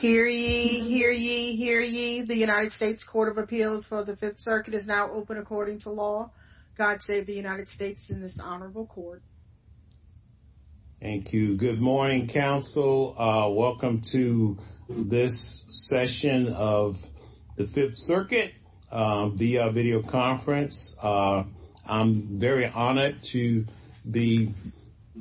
Hear ye, hear ye, hear ye. The United States Court of Appeals for the Fifth Circuit is now open according to law. God save the United States in this honorable court. Thank you. Good morning, counsel. Welcome to this session of the Fifth Circuit VR video conference. I'm very honored to be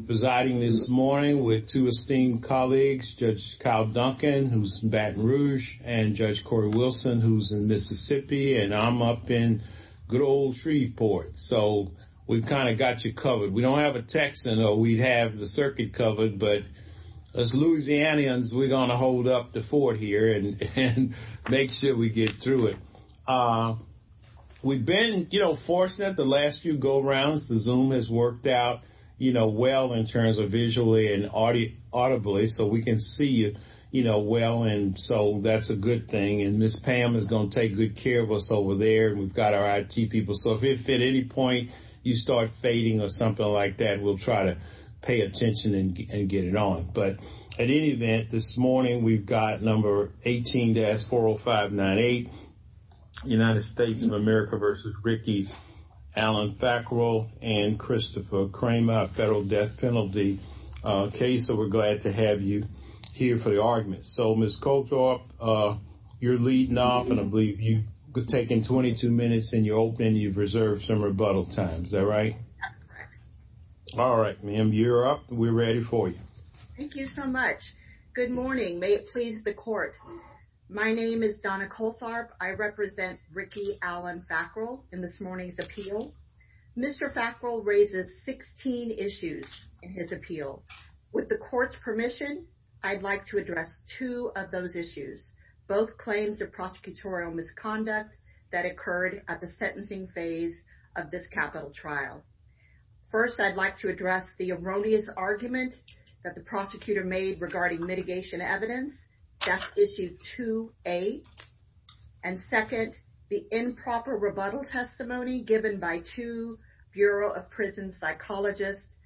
presiding this morning with two esteemed colleagues, Judge Kyle Duncan, who's in Baton Rouge, and Judge Corey Wilson, who's in Mississippi, and I'm up in good old Shreveport. So we've kind of got you covered. We don't have a text, although we have the circuit covered, but as Louisianians, we're going to hold up the fort here and make sure we get through it. We've been, you know, fortunate the last few go-rounds, the Zoom has worked out, you know, well in terms of visually and audibly, so we can see you, you know, well, and so that's a good thing. And Ms. Pam is going to take good care of us over there. We've got our IT people, so if at any point you start fading or something like that, we'll try to pay attention and get it on. But at any event, this morning, we've got number 18-40598, United States of America versus Ricky Allen Thackrell and Christopher Cramer, federal death penalty case, so we're glad to have you here for the argument. So, Ms. Colthoff, you're leading off, and I believe you've taken 22 minutes in your opening. You've reserved some rebuttal time. Is that right? All right, ma'am, you're up. We're ready for you. Thank you so much. Good morning. May it please the court. My name is Donna Colthoff. I represent Ricky Allen Thackrell in this morning's appeal. Mr. Thackrell raises 16 issues in his appeal. With the court's permission, I'd like to address two of those issues, both claims of prosecutorial misconduct that occurred at the sentencing phase of this capital trial. First, I'd like to address the erroneous argument that the prosecutor made regarding mitigation evidence. That's issue 2A. And second, the improper rebuttal testimony given by two Bureau of Prison psychologists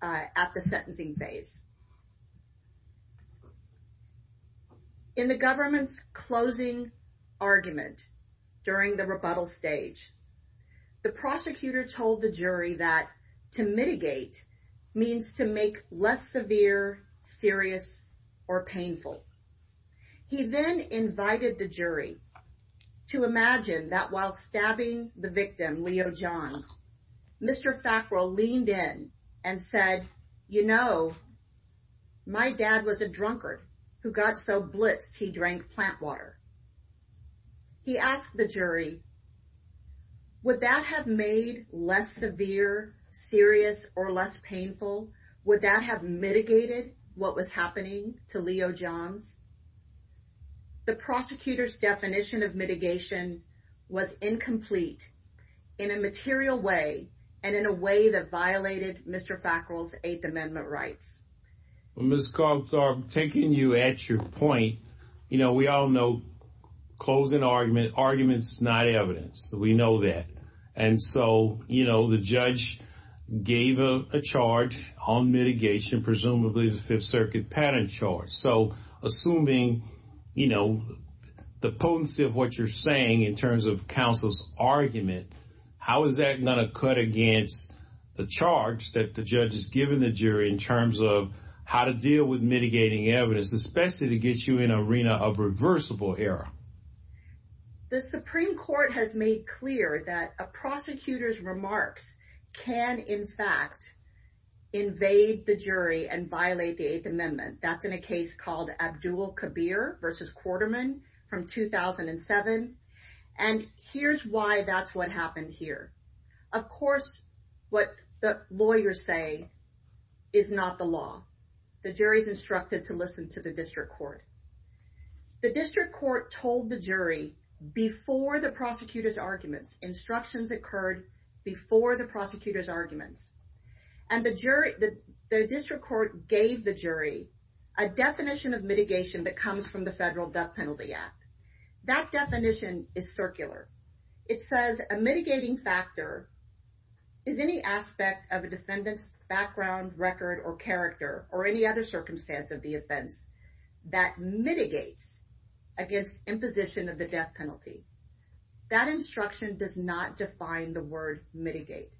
at the sentencing phase. In the government's closing argument during the rebuttal stage, the prosecutor told the jury that to mitigate means to make less severe, serious, or painful. He then invited the jury to imagine that while stabbing the victim, Leo John, Mr. Thackrell leaned in and said, you know, my dad was a drunkard who got so blitzed he drank plant water. He asked the jury, would that have made less severe, serious, or less painful? Would that have mitigated what was happening to Leo John? The prosecutor's definition of mitigation was incomplete in a material way and in a way that violated Mr. Thackrell's Eighth Amendment rights. Well, Ms. Cogstar, taking you at your point, you know, we all know closing arguments is not evidence. We know that. And so, you know, the judge gave a charge on mitigation, presumably the Fifth Circuit patent charge. So, assuming, you know, the potency of what you're saying in terms of counsel's argument, how is that going to cut against the charge that the judge has given the jury in terms of how to deal with mitigating evidence, especially to get you in an arena of reversible error? The Supreme Court has made clear that a prosecutor's remarks can, in fact, invade the jury and violate the Eighth Amendment. That's in a case called Abdul Kabir v. Quarterman from 2007. And here's why that's what happened here. Of course, what the lawyers say is not the law. The jury is instructed to listen to the district court. The district court told the jury before the prosecutor's argument, instructions occurred before the prosecutor's argument. And the district court gave the jury a definition of mitigation that comes from the Federal Death Penalty Act. That definition is circular. It says a mitigating factor is any aspect of a defendant's background, record, or character or any other circumstance of the offense that mitigates against imposition of the death penalty. That instruction does not define the word mitigate.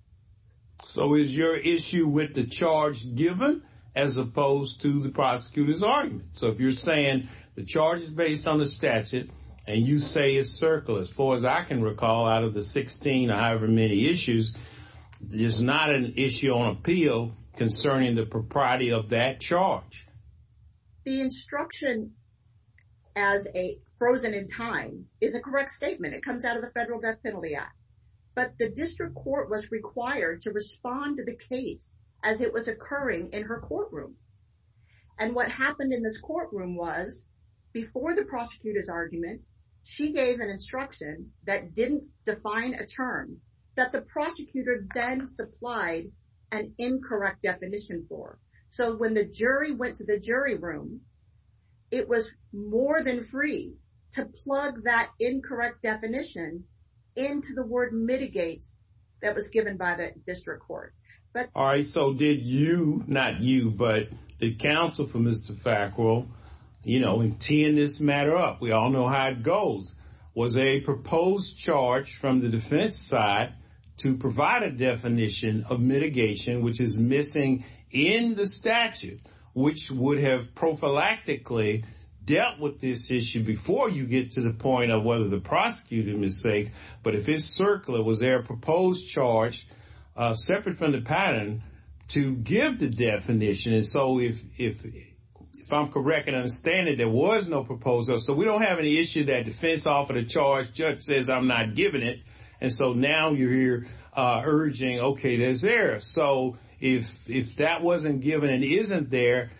So is your issue with the charge given as opposed to the prosecutor's argument? So if you're saying the charge is based on the statute and you say it's circular, as far as I can recall out of the 16 or however many issues, there's not an issue on appeal concerning the propriety of that charge. The instruction as a frozen in time is a correct statement. It comes out of the Federal Death Penalty Act. But the district court was required to respond to the case as it was occurring in her courtroom. And what happened in this courtroom was before the prosecutor's argument, she gave an instruction that didn't define a term that the prosecutor then supplied an incorrect definition for. So when the jury went to the jury room, it was more than free to plug that incorrect definition into the word mitigate that was given by the district court. All right. So did you, not you, but the counsel for Mr. Thackrell, you know, in teeing this matter up, we all know how it goes, was a proposed charge from the defense side to provide a definition of mitigation, which is missing in the statute, which would have prophylactically dealt with this issue before you get to the point of whether the prosecutor was safe. But if it's circular, was there a proposed charge separate from the pattern to give the definition? And so if I'm correct and understand it, there was no proposal. So we don't have any issue that defense offered a charge, judge says I'm not giving it. And so now you're urging, okay, there's error. So if that wasn't given and isn't there,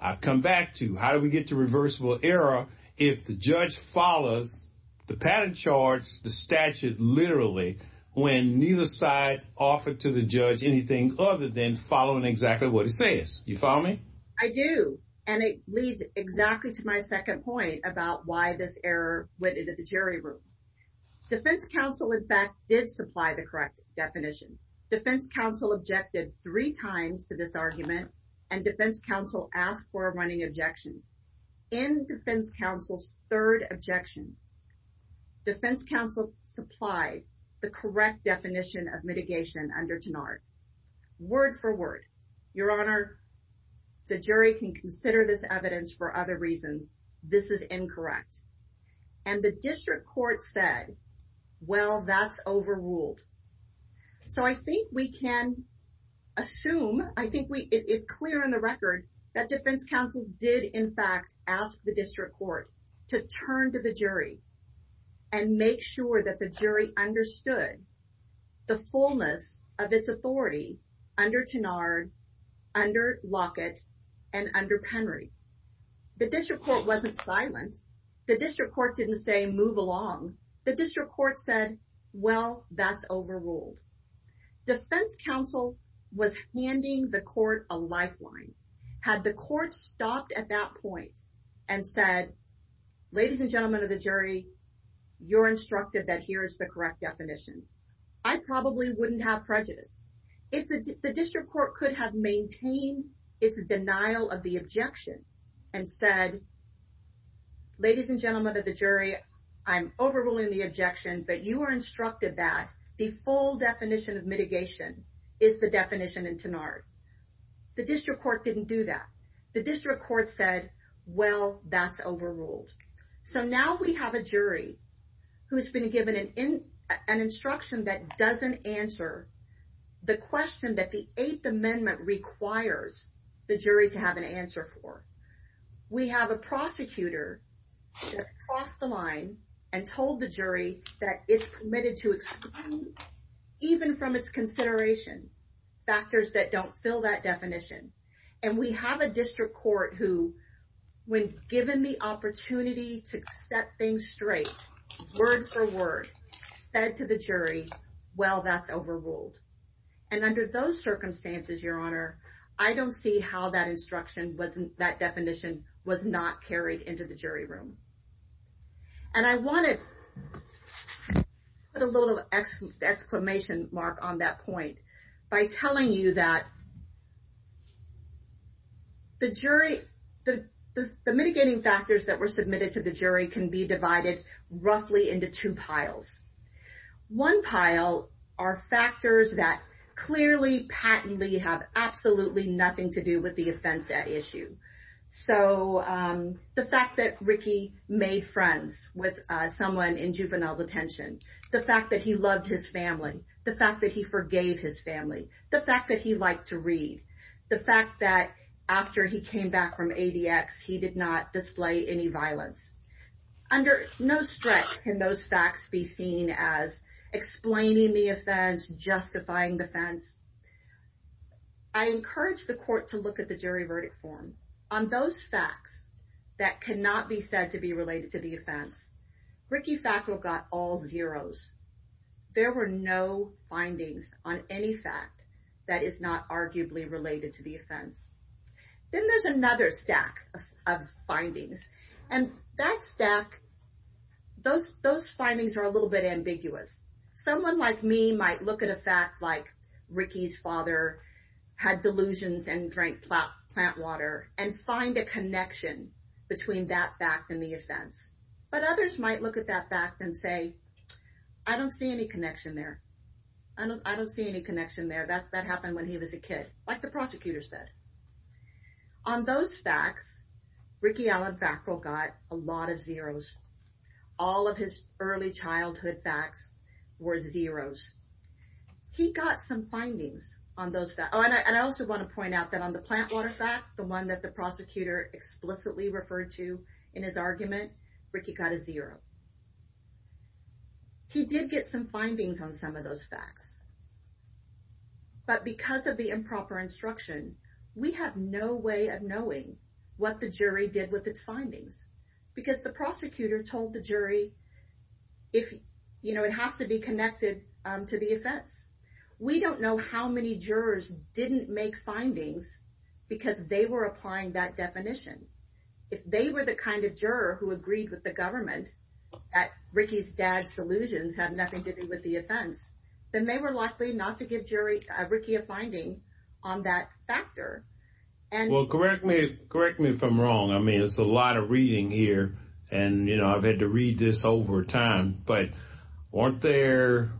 I come back to how do we get to reversible error if the judge follows the pattern charge, the statute literally, when neither side offered to the judge anything other than following exactly what it says. You follow me? I do. And it leads exactly to my second point about why this error went into the jury room. Defense counsel, in fact, did supply the correct definition. Defense counsel objected three times to this argument and defense counsel asked for a running objection. In defense counsel's third objection, defense counsel supplied the correct definition of mitigation under Tenard. Word for word, your honor, the jury can consider this evidence for other reasons. This is incorrect. And the district court said, well, that's overruled. So I think we can assume, I think it's clear in the record that defense counsel did, in fact, ask the district court to turn to the jury and make sure that the jury understood the fullness of this authority. Under Tenard, under Lockett, and under Penry. The district court wasn't silent. The district court didn't say move along. The district court said, well, that's overruled. Defense counsel was handing the court a lifeline. Had the court stopped at that point and said, ladies and gentlemen of the jury, you're instructed that here is the correct definition, I probably wouldn't have prejudice. The district court could have maintained its denial of the objection and said, ladies and gentlemen of the jury, I'm overruling the objection, but you were instructed that the full definition of mitigation is the definition in Tenard. The district court didn't do that. The district court said, well, that's overruled. So now we have a jury who has been given an instruction that doesn't answer the question that the Eighth Amendment requires the jury to have an answer for. We have a prosecutor that crossed the line and told the jury that it's permitted to exclude, even from its consideration, factors that don't fill that definition. And we have a district court who, when given the opportunity to set things straight, word for word, said to the jury, well, that's overruled. And under those circumstances, Your Honor, I don't see how that instruction, that definition was not carried into the jury room. And I wanted to put a little exclamation mark on that point by telling you that the jury, the mitigating factors that were submitted to the jury can be divided roughly into two piles. One pile are factors that clearly, patently have absolutely nothing to do with the offense at issue. So the fact that Ricky made friends with someone in juvenile detention, the fact that he loved his family, the fact that he forgave his family, the fact that he liked to read, the fact that after he came back from ADX, he did not display any violence. Under no stretch can those facts be seen as explaining the offense, justifying the offense. I encourage the court to look at the jury verdict form. On those facts that cannot be said to be related to the offense, Ricky Fackler got all zeroes. There were no findings on any fact that is not arguably related to the offense. Then there's another stack of findings. And that stack, those findings are a little bit ambiguous. Someone like me might look at a fact like Ricky's father had delusions and drank plant water and find a connection between that fact and the offense. But others might look at that fact and say, I don't see any connection there. I don't see any connection there. That happened when he was a kid, like the prosecutor said. On those facts, Ricky Allen Fackler got a lot of zeroes. All of his early childhood facts were zeroes. He got some findings on those facts. And I also want to point out that on the plant water fact, the one that the prosecutor explicitly referred to in his argument, Ricky got a zero. He did get some findings on some of those facts. But because of the improper instruction, we have no way of knowing what the jury did with its findings. Because the prosecutor told the jury it has to be connected to the offense. We don't know how many jurors didn't make findings because they were applying that definition. If they were the kind of juror who agreed with the government that Ricky's dad's delusions have nothing to do with the offense, then they were likely not to give Ricky a finding on that factor. Well, correct me if I'm wrong. I mean, it's a lot of reading here. And, you know, I've had to read this over time. But weren't there,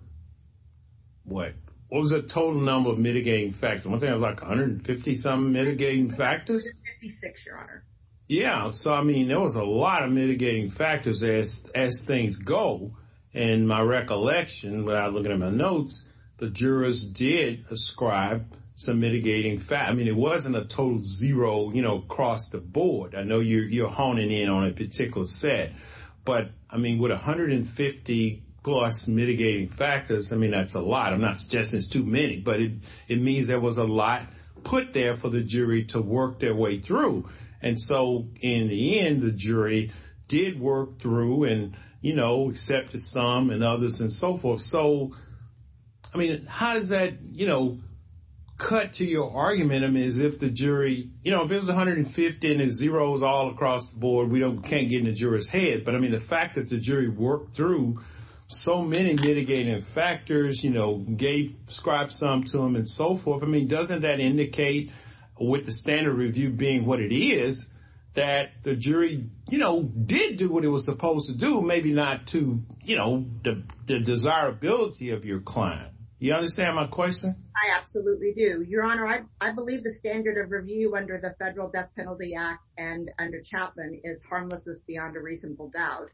what was the total number of mitigating factors? Wasn't there like 150-something mitigating factors? Yeah. So, I mean, there was a lot of mitigating factors as things go. And my recollection, when I look at my notes, the jurors did ascribe some mitigating factors. I mean, it wasn't a total zero, you know, across the board. I know you're honing in on a particular set. But, I mean, with 150-plus mitigating factors, I mean, that's a lot. I'm not suggesting it's too many. But it means there was a lot put there for the jury to work their way through. And so, in the end, the jury did work through and, you know, accepted some and others and so forth. So, I mean, how does that, you know, cut to your argument? I mean, if the jury, you know, if there's 150 and there's zeros all across the board, we can't get in the juror's head. But, I mean, the fact that the jury worked through so many mitigating factors, you know, described some to them and so forth, I mean, doesn't that indicate, with the standard review being what it is, that the jury, you know, did do what it was supposed to do, maybe not to, you know, the desirability of your client. Do you understand my question? I absolutely do. Your Honor, I believe the standard of review under the Federal Death Penalty Act and under Chapman is harmlessness beyond a reasonable doubt.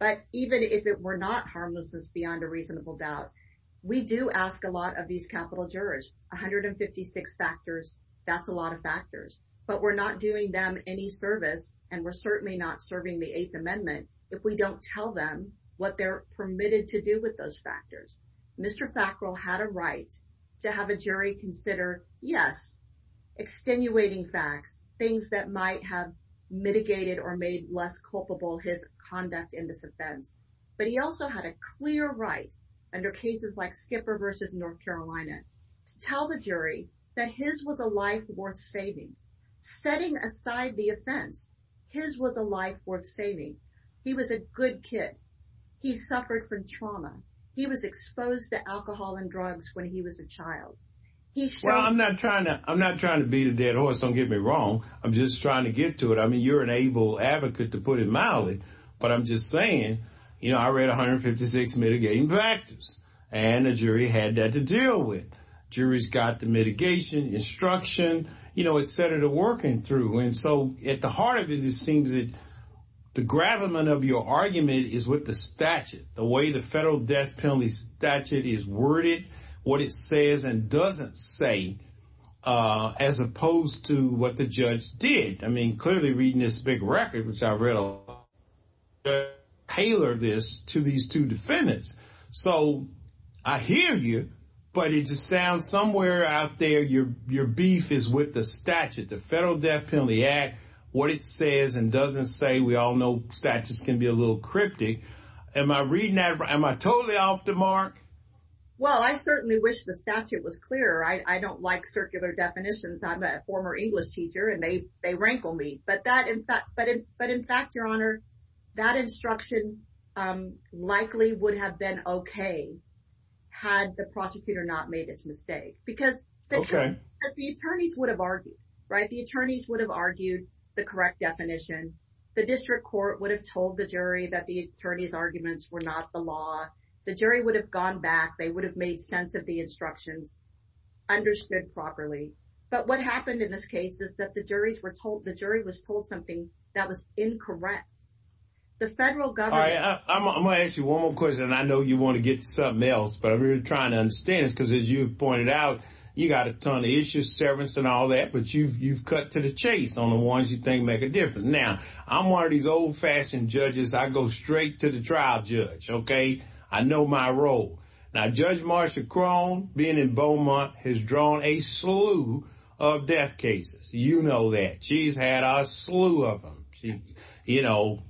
But even if it were not harmlessness beyond a reasonable doubt, we do ask a lot of these capital jurors. 156 factors, that's a lot of factors. But we're not doing them any service and we're certainly not serving the Eighth Amendment if we don't tell them what they're permitted to do with those factors. Mr. Fackrell had a right to have a jury consider, yes, extenuating facts, things that might have mitigated or made less culpable his conduct in this offense. But he also had a clear right under cases like Skipper v. North Carolina to tell the jury that his was a life worth saving. Setting aside the offense, his was a life worth saving. He was a good kid. He suffered from trauma. He was exposed to alcohol and drugs when he was a child. Well, I'm not trying to beat a dead horse. Don't get me wrong. I'm just trying to get to it. I mean, you're an able advocate, to put it mildly. But I'm just saying, you know, I read 156 mitigating factors and the jury had that to deal with. Jury's got the mitigation, instruction, you know, et cetera, working through. And so, at the heart of it, it seems that the gravamen of your argument is with the statute. The way the Federal Death Penalty Statute is worded, what it says and doesn't say, as opposed to what the judge did. I mean, clearly reading this big record, which I read a lot, they tailored this to these two defendants. So, I hear you, but it just sounds somewhere out there, your beef is with the statute. The Federal Death Penalty Act, what it says and doesn't say, we all know statutes can be a little cryptic. Am I reading that, am I totally off the mark? Well, I certainly wish the statute was clearer. I don't like circular definitions. I'm a former English teacher and they rankle me. But in fact, your honor, that instruction likely would have been okay had the prosecutor not made this mistake. Because the attorneys would have argued, right? The attorneys would have argued the correct definition. The district court would have told the jury that the attorney's arguments were not the law. The jury would have gone back, they would have made sense of the instructions, understood properly. But what happened in this case is that the jury was told something that was incorrect. The Federal Government... I'm going to ask you one more question and I know you want to get to something else, but I'm really trying to understand because as you pointed out, you've got a ton of issues, service and all that, but you've cut to the chase on the ones you think make a difference. Now, I'm one of these old fashioned judges, I go straight to the trial judge, okay? I know my role. Now, Judge Marsha Crone, being in Beaumont, has drawn a slew of death cases. You know that. She's had a slew of them. You know,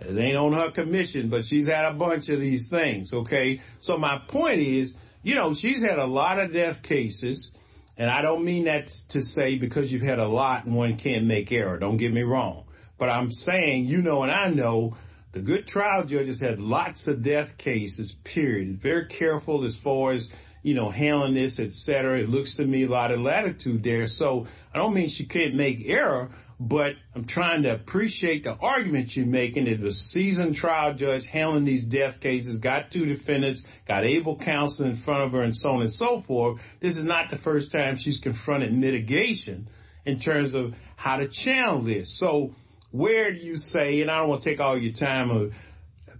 it ain't on her commission, but she's had a bunch of these things, okay? So my point is, you know, she's had a lot of death cases and I don't mean that to say because you've had a lot and one can't make error. Don't get me wrong. But I'm saying, you know and I know, the good trial judges have lots of death cases, period. Very careful as far as, you know, handling this, et cetera. It looks to me a lot of latitude there. So I don't mean she can't make error, but I'm trying to appreciate the argument she's making. And if a seasoned trial judge handling these death cases, got two defendants, got able counsel in front of her and so on and so forth, this is not the first time she's confronted mitigation in terms of how to channel this. So where do you say, and I don't want to take all your time, but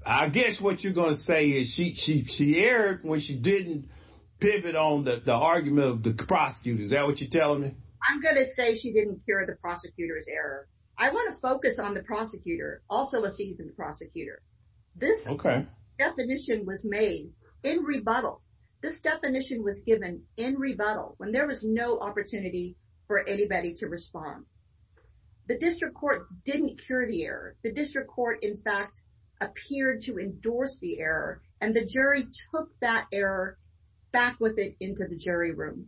I guess what you're going to say is she erred when she didn't pivot on the argument of the prosecutor. Is that what you're telling me? I'm going to say she didn't cure the prosecutor's error. I want to focus on the prosecutor, also a seasoned prosecutor. This definition was made in rebuttal. This definition was given in rebuttal when there was no opportunity for anybody to respond. The district court didn't cure the error. The district court, in fact, appeared to endorse the error and the jury took that error back with it into the jury room.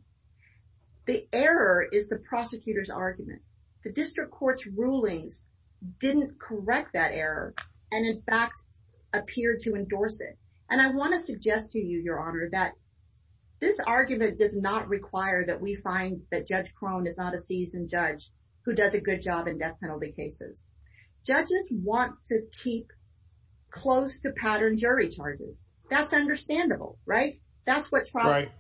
The error is the prosecutor's argument. The district court's ruling didn't correct that error and in fact appeared to endorse it. And I want to suggest to you, your honor, that this argument does not require that we find that Judge Crone is not a seasoned judge who does a good job in death penalty cases. Judges want to keep close to pattern jury charges. That's understandable, right? That's what trials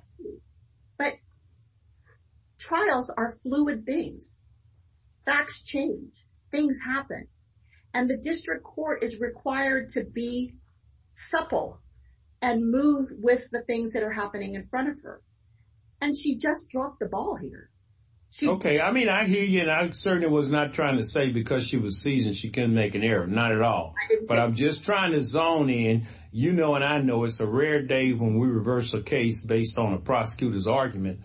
do. And move with the things that are happening in front of her. And she just dropped the ball here. Okay. I mean, I hear you and I certainly was not trying to say because she was seasoned she couldn't make an error. Not at all. But I'm just trying to zone in. You know and I know it's a rare day when we reverse a case based on a prosecutor's argument.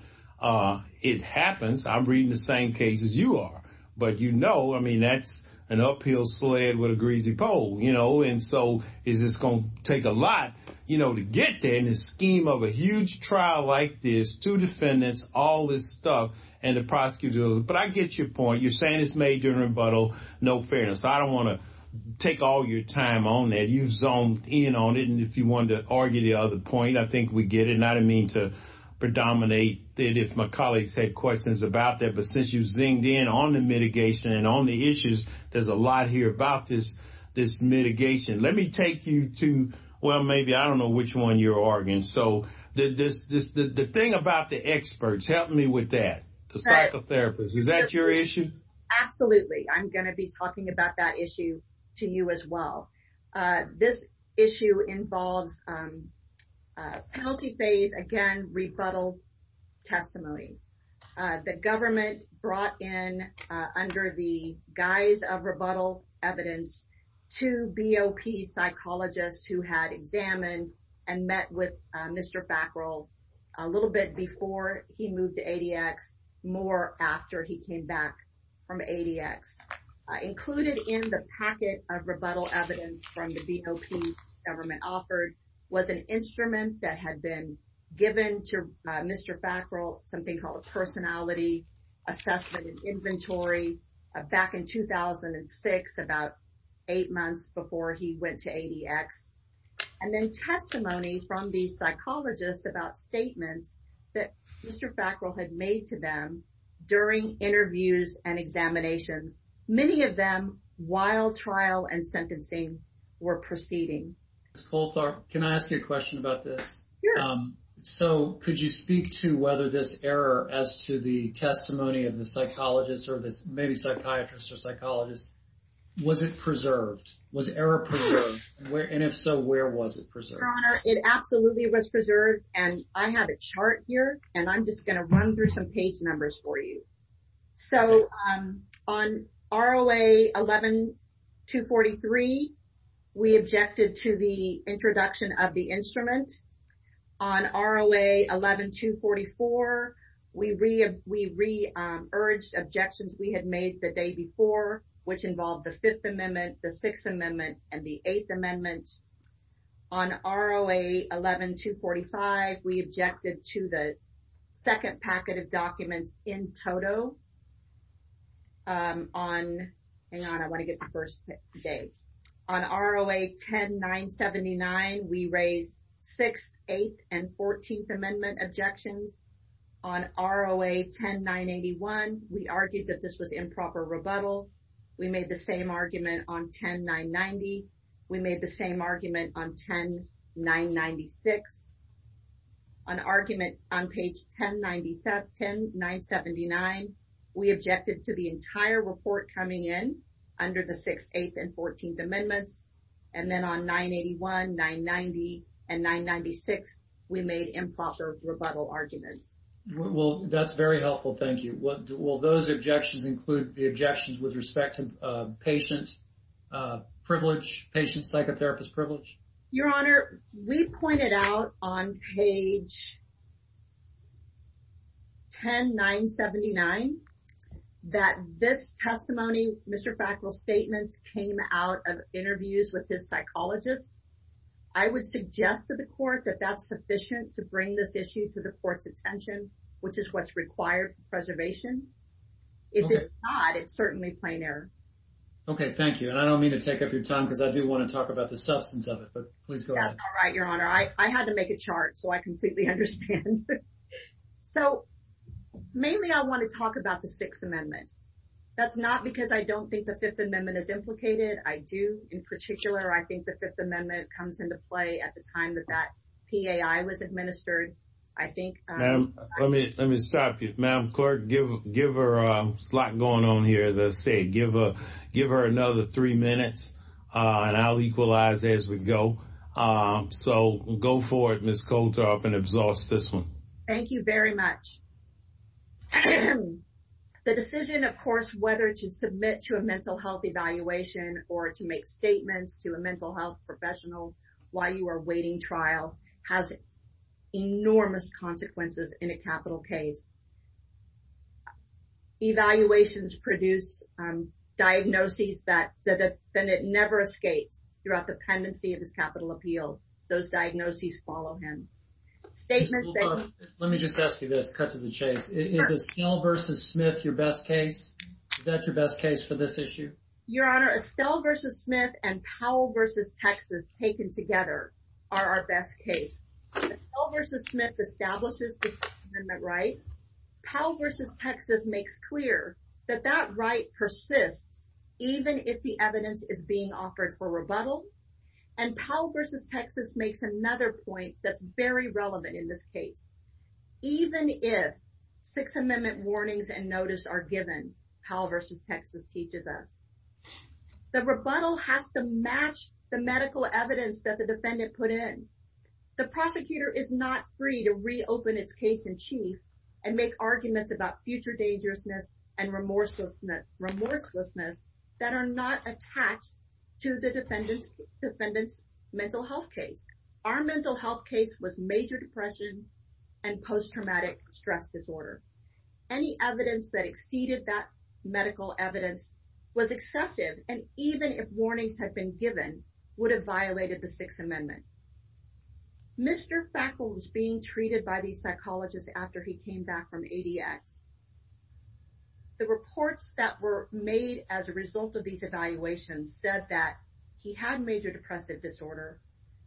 It happens. I'm reading the same case as you are. But you know, I mean, that's an uphill sled with a greasy pole, you know. And so is this going to take a lot, you know, to get there in the scheme of a huge trial like this, two defendants, all this stuff and the prosecutor. But I get your point. You're saying it's major rebuttal. No fairness. I don't want to take all your time on that. You've zoned in on it. And if you want to argue the other point, I think we get it. And I didn't mean to predominate it if my colleagues had questions about that. But since you zinged in on the mitigation and on the issues, there's a lot here about this mitigation. Let me take you to, well, maybe I don't know which one you're arguing. So the thing about the experts, help me with that, the psychotherapists, is that your issue? Absolutely. I'm going to be talking about that issue to you as well. This issue involves penalty phase, again, rebuttal testimony. The government brought in, under the guise of rebuttal evidence, two BOP psychologists who had examined and met with Mr. Fackrell a little bit before he moved to ADX, more after he came back from ADX. Included in the packet of rebuttal evidence from the BOP government offered was an instrument that had been given to Mr. Fackrell, something called a personality assessment and inventory, back in 2006, about eight months before he went to ADX. And then testimony from these psychologists about statements that Mr. Fackrell had made to them during interviews and examinations, many of them while trial and sentencing were proceeding. Can I ask you a question about this? So could you speak to whether this error as to the testimony of the psychologists or maybe psychiatrists or psychologists, was it preserved? Was error preserved? And if so, where was it preserved? It absolutely was preserved. And I have a chart here, and I'm just going to run through some page numbers for you. So on RLA 11-243, we objected to the introduction of the instrument. On RLA 11-244, we re-urged objections we had made the day before, which involved the Fifth Amendment, the Sixth Amendment, and the Eighth Amendment. On RLA 11-245, we objected to the second packet of documents in total. On RLA 10-979, we raised Sixth, Eighth, and Fourteenth Amendment objections. On RLA 10-981, we argued that this was improper rebuttal. We made the same argument on 10-990. We made the same argument on 10-996. On argument on page 10-979, we objected to the entire report coming in under the Sixth, Eighth, and Fourteenth Amendments. And then on 9-81, 9-90, and 9-96, we made improper rebuttal arguments. Well, that's very helpful. Thank you. Will those objections include the objections with respect to patient privilege, patient psychotherapist privilege? Your Honor, we pointed out on page 10-979 that this testimony, Mr. Fackel's statement, came out of interviews with his psychologist. I would suggest to the court that that's sufficient to bring this issue to the court's attention, which is what's required for preservation. If it's not, it's certainly plain error. Okay, thank you. And I don't mean to take up your time because I do want to talk about the substance of it, but please go ahead. That's all right, Your Honor. I had to make a chart so I completely understand. So, mainly I want to talk about the Sixth Amendment. That's not because I don't think the Fifth Amendment is implicated. I do, in particular, I think the Fifth Amendment comes into play at the time that that PAI was administered. Let me stop you. Madam Clerk, there's a lot going on here, as I said. Give her another three minutes, and I'll equalize as we go. So, go for it, Ms. Koltoff, and exhaust this one. Thank you very much. The decision, of course, whether to submit to a mental health evaluation or to make statements to a mental health professional while you are awaiting trial has enormous consequences in a capital case. Evaluations produce diagnoses that the defendant never escapes throughout the pendency of the capital appeal. Those diagnoses follow him. Let me just ask you this, cut to the chase. Is Estelle v. Smith your best case? Is that your best case for this issue? Your Honor, Estelle v. Smith and Powell v. Texas taken together are our best case. Estelle v. Smith establishes the Sixth Amendment right. Powell v. Texas makes clear that that right persists even if the evidence is being offered for rebuttal. And Powell v. Texas makes another point that's very relevant in this case. Even if Sixth Amendment warnings and notice are given, Powell v. Texas teaches us. The rebuttal has to match the medical evidence that the defendant put in. The prosecutor is not free to reopen its case in chief and make arguments about future dangerousness and remorselessness that are not attached to the defendant's mental health case. Our mental health case was major depression and post-traumatic stress disorder. Any evidence that exceeded that medical evidence was accepted and even if warnings had been given would have violated the Sixth Amendment. Mr. Fackel was being treated by the psychologist after he came back from ADX. The reports that were made as a result of these evaluations said that he had major depressive disorder,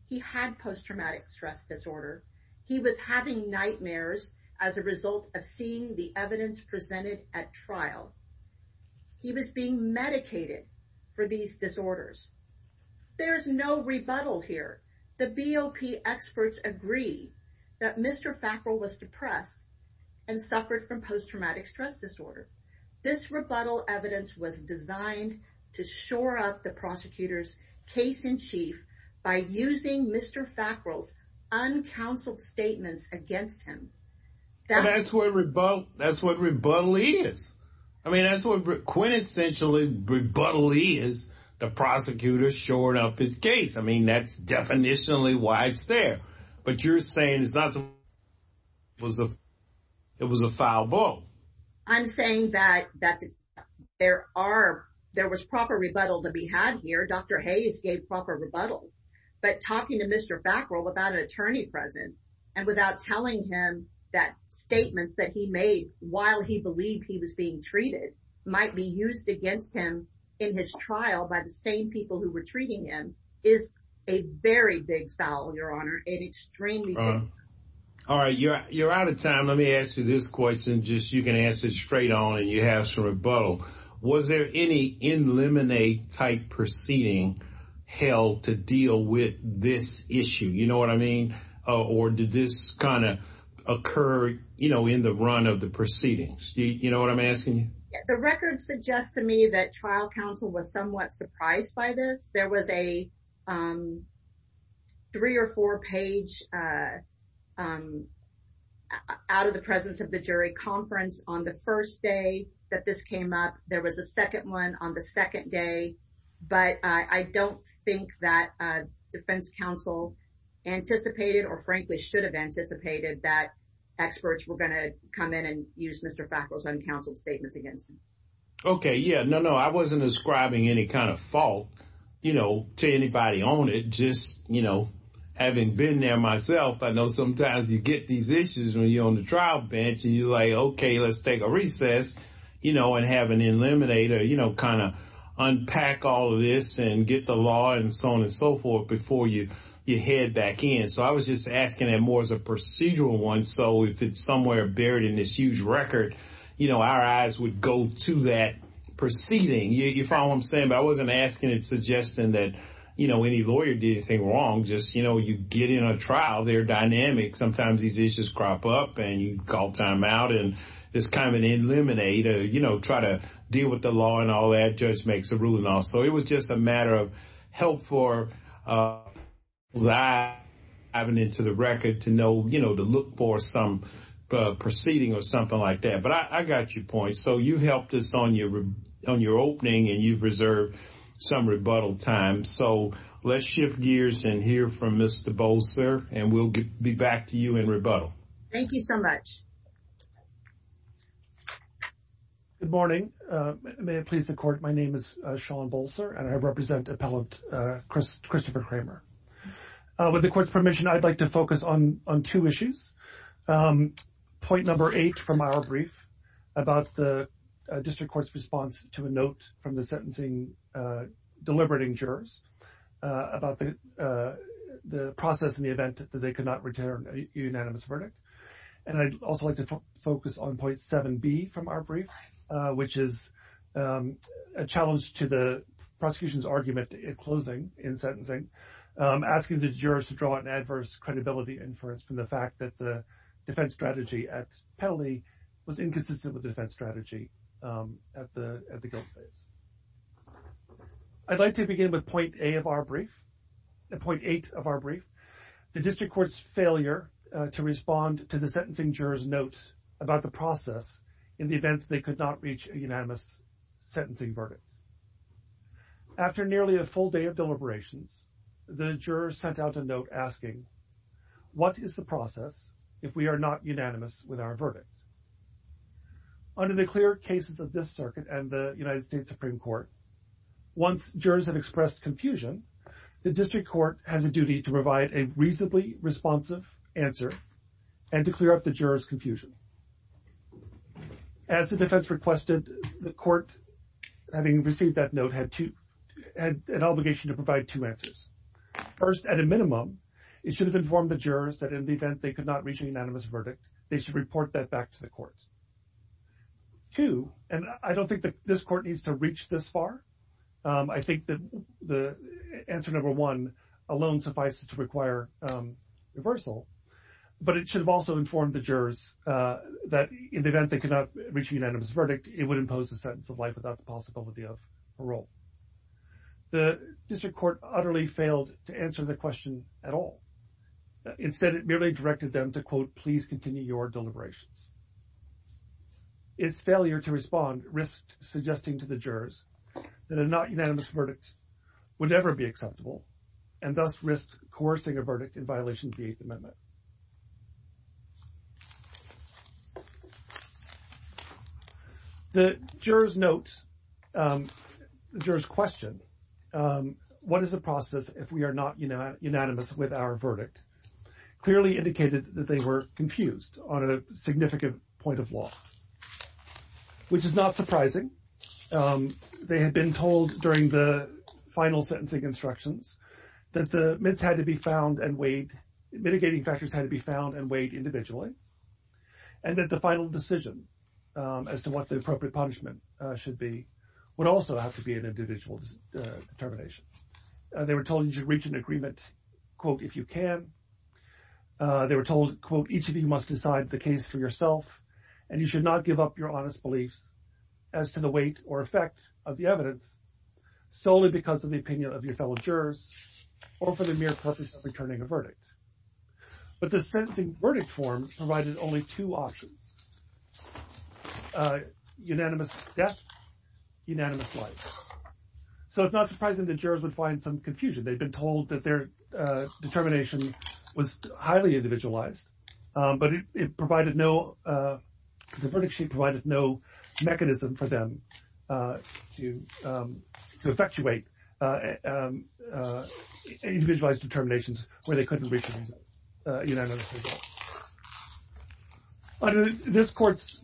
he had post-traumatic stress disorder, he was having nightmares as a result of seeing the evidence presented at trial. He was being medicated for these disorders. There's no rebuttal here. The BOP experts agree that Mr. Fackel was depressed and suffered from post-traumatic stress disorder. This rebuttal evidence was designed to shore up the prosecutor's case in chief by using Mr. Fackel's uncounseled statements against him. That's what rebuttal is. I mean, that's what quintessentially rebuttal is. The prosecutor shored up his case. I mean, that's definitionally why it's there. But you're saying it was a foul ball. I'm saying that there was proper rebuttal to be had here. Dr. Hayes gave proper rebuttal. But talking to Mr. Fackel without an attorney present and without telling him that statements that he made while he believed he was being treated might be used against him in his trial by the same people who were treating him is a very big foul, Your Honor. All right. You're out of time. Let me ask you this question just so you can answer it straight on and you have some rebuttal. Was there any in limine type proceeding held to deal with this issue? You know what I mean? Or did this kind of occur, you know, in the run of the proceedings? You know what I'm asking? The records suggest to me that trial counsel was somewhat surprised by this. There was a three or four page out of the presence of the jury conference on the first day that this came up. There was a second one on the second day. But I don't think that defense counsel anticipated or frankly should have anticipated that experts were going to come in and use Mr. Fackel's own counsel statements against him. Okay. Yeah. No, no. I wasn't describing any kind of fault, you know, to anybody on it. Just, you know, having been there myself, I know sometimes you get these issues when you're on the trial bench and you're like, okay, let's take a recess, you know, and have an eliminator, you know, kind of unpack all of this and get the law and so on and so forth before you head back in. So I was just asking that more as a procedural one. So if it's somewhere buried in this huge record, you know, our eyes would go to that proceeding. You follow what I'm saying? I wasn't asking and suggesting that, you know, any lawyer did anything wrong. Just, you know, you get in a trial, they're dynamic. Sometimes these issues crop up and you call timeout and just kind of eliminate or, you know, try to deal with the law and all that. Judge makes the ruling on it. So it was just a matter of help for having it to the record to know, you know, to look for some proceeding or something like that. But I got your point. So you helped us on your opening and you've reserved some rebuttal time. So let's shift gears and hear from Mr. Bolzer and we'll be back to you in rebuttal. Thank you so much. Good morning. May it please the court. My name is Sean Bolzer and I represent appellant Christopher Kramer. With the court's permission, I'd like to focus on two issues. Point number eight from our brief about the district court's response to a note from the sentencing deliberating jurors about the process in the event that they could not return a unanimous verdict. And I'd also like to focus on point 7B from our brief, which is a challenge to the prosecution's argument in closing, in sentencing, asking the jurors to draw an adverse credibility inference from the fact that the defense strategy at penalty was inconsistent with defense strategy at the guilt stage. I'd like to begin with point eight of our brief. The district court's failure to respond to the sentencing jurors' notes about the process in the event they could not reach a unanimous sentencing verdict. After nearly a full day of deliberations, the jurors sent out a note asking, what is the process if we are not unanimous with our verdict? Under the clear cases of this circuit and the United States Supreme Court, once jurors have expressed confusion, the district court has a duty to provide a reasonably responsive answer and to clear up the jurors' confusion. As the defense requested, the court, having received that note, had an obligation to provide two answers. First, at a minimum, it should have informed the jurors that in the event they could not reach a unanimous verdict, they should report that back to the courts. Two, and I don't think that this court needs to reach this far. I think that the answer number one alone suffices to require reversal. But it should have also informed the jurors that in the event they could not reach a unanimous verdict, it would impose a sentence of life without the possibility of parole. The district court utterly failed to answer the question at all. Instead, it merely directed them to, quote, please continue your deliberations. Its failure to respond risked suggesting to the jurors that a not unanimous verdict would never be acceptable and thus risked coercing a verdict in violation of the Eighth Amendment. The jurors' notes, jurors' questions, what is the process if we are not unanimous with our verdict, clearly indicated that they were confused on a significant point of law, which is not surprising. They had been told during the final sentencing instructions that the mitigating factors had to be found and weighed individually, and that the final decision as to what the appropriate punishment should be would also have to be an individual determination. They were told you should reach an agreement, quote, if you can. They were told, quote, each of you must decide the case for yourself, and you should not give up your honest beliefs as to the weight or effect of the evidence solely because of the opinion of your fellow jurors or for the mere purpose of returning a verdict. But the sentencing verdict form provided only two options, unanimous death, unanimous life. So it's not surprising that jurors would find some confusion. They've been told that their determination was highly individualized, but it provided no – the verdict sheet provided no mechanism for them to effectuate individualized determinations where they couldn't reach unanimous decision. Under this court's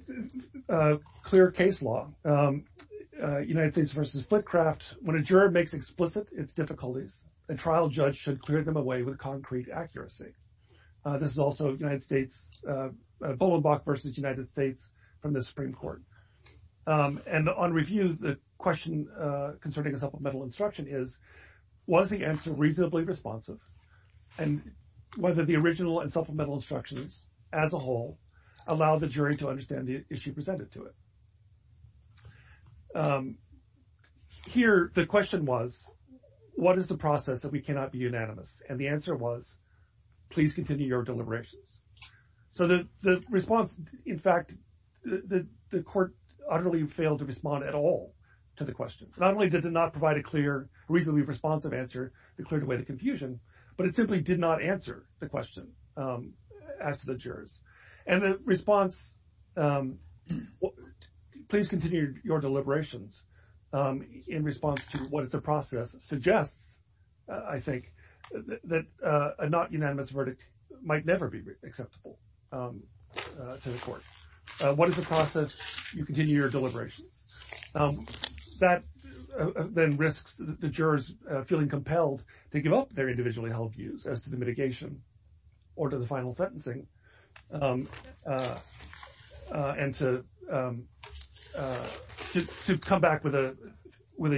clear case law, United States v. Footcraft, when a juror makes explicit its difficulties, a trial judge should clear them away with concrete accuracy. This is also United States – Bullenbach v. United States from the Supreme Court. And on review, the question concerning the supplemental instruction is, was the answer reasonably responsive, and whether the original and supplemental instructions as a whole allow the jury to understand the issue presented to it? Here, the question was, what is the process that we cannot be unanimous? And the answer was, please continue your deliberations. So the response – in fact, the court utterly failed to respond at all to the question. Not only did it not provide a clear, reasonably responsive answer to clear away the confusion, but it simply did not answer the question asked to the jurors. And the response, please continue your deliberations, in response to what the process suggests, I think, that a not unanimous verdict might never be acceptable to the court. What is the process? You continue your deliberations. That then risks the jurors feeling compelled to give up their individually held views as to the mitigation or to the final sentencing, and to come back with a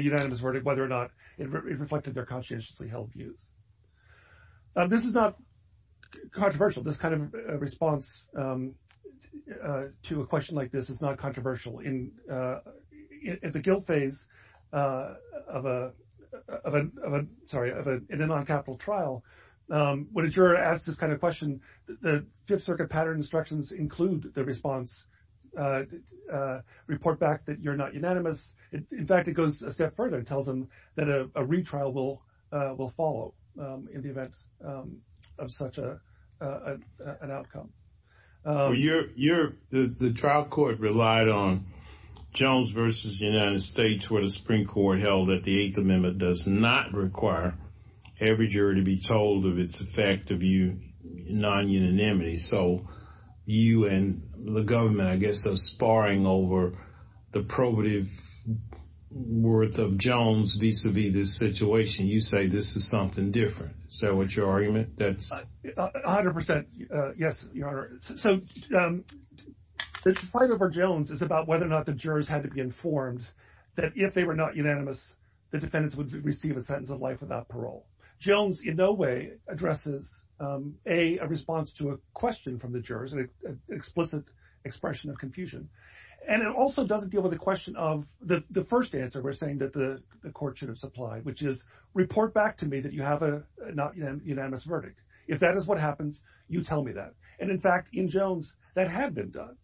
unanimous verdict, whether or not it reflected their conscientiously held views. This is not controversial. This kind of response to a question like this is not controversial. In the guilt phase of a – sorry, in a noncapital trial, when a juror asks this kind of question, the Fifth Circuit pattern instructions include the response, report back that you're not unanimous. In fact, it goes a step further and tells them that a retrial will follow in the event of such an outcome. The trial court relied on Jones v. United States, where the Supreme Court held that the Eighth Amendment does not require every juror to be told of its effect of non-unanimity. So, you and the government, I guess, are sparring over the probative worth of Jones vis-à-vis this situation. You say this is something different. Is that what your argument is? A hundred percent, yes, Your Honor. So, part of our Jones is about whether or not the jurors had to be informed that if they were not unanimous, the defendants would receive a sentence of life without parole. Jones in no way addresses a response to a question from the jurors, an explicit expression of confusion. And it also doesn't deal with the question of the first answer we're saying that the court shouldn't supply, which is report back to me that you have a not unanimous verdict. If that is what happens, you tell me that. And, in fact, in Jones, that had been done.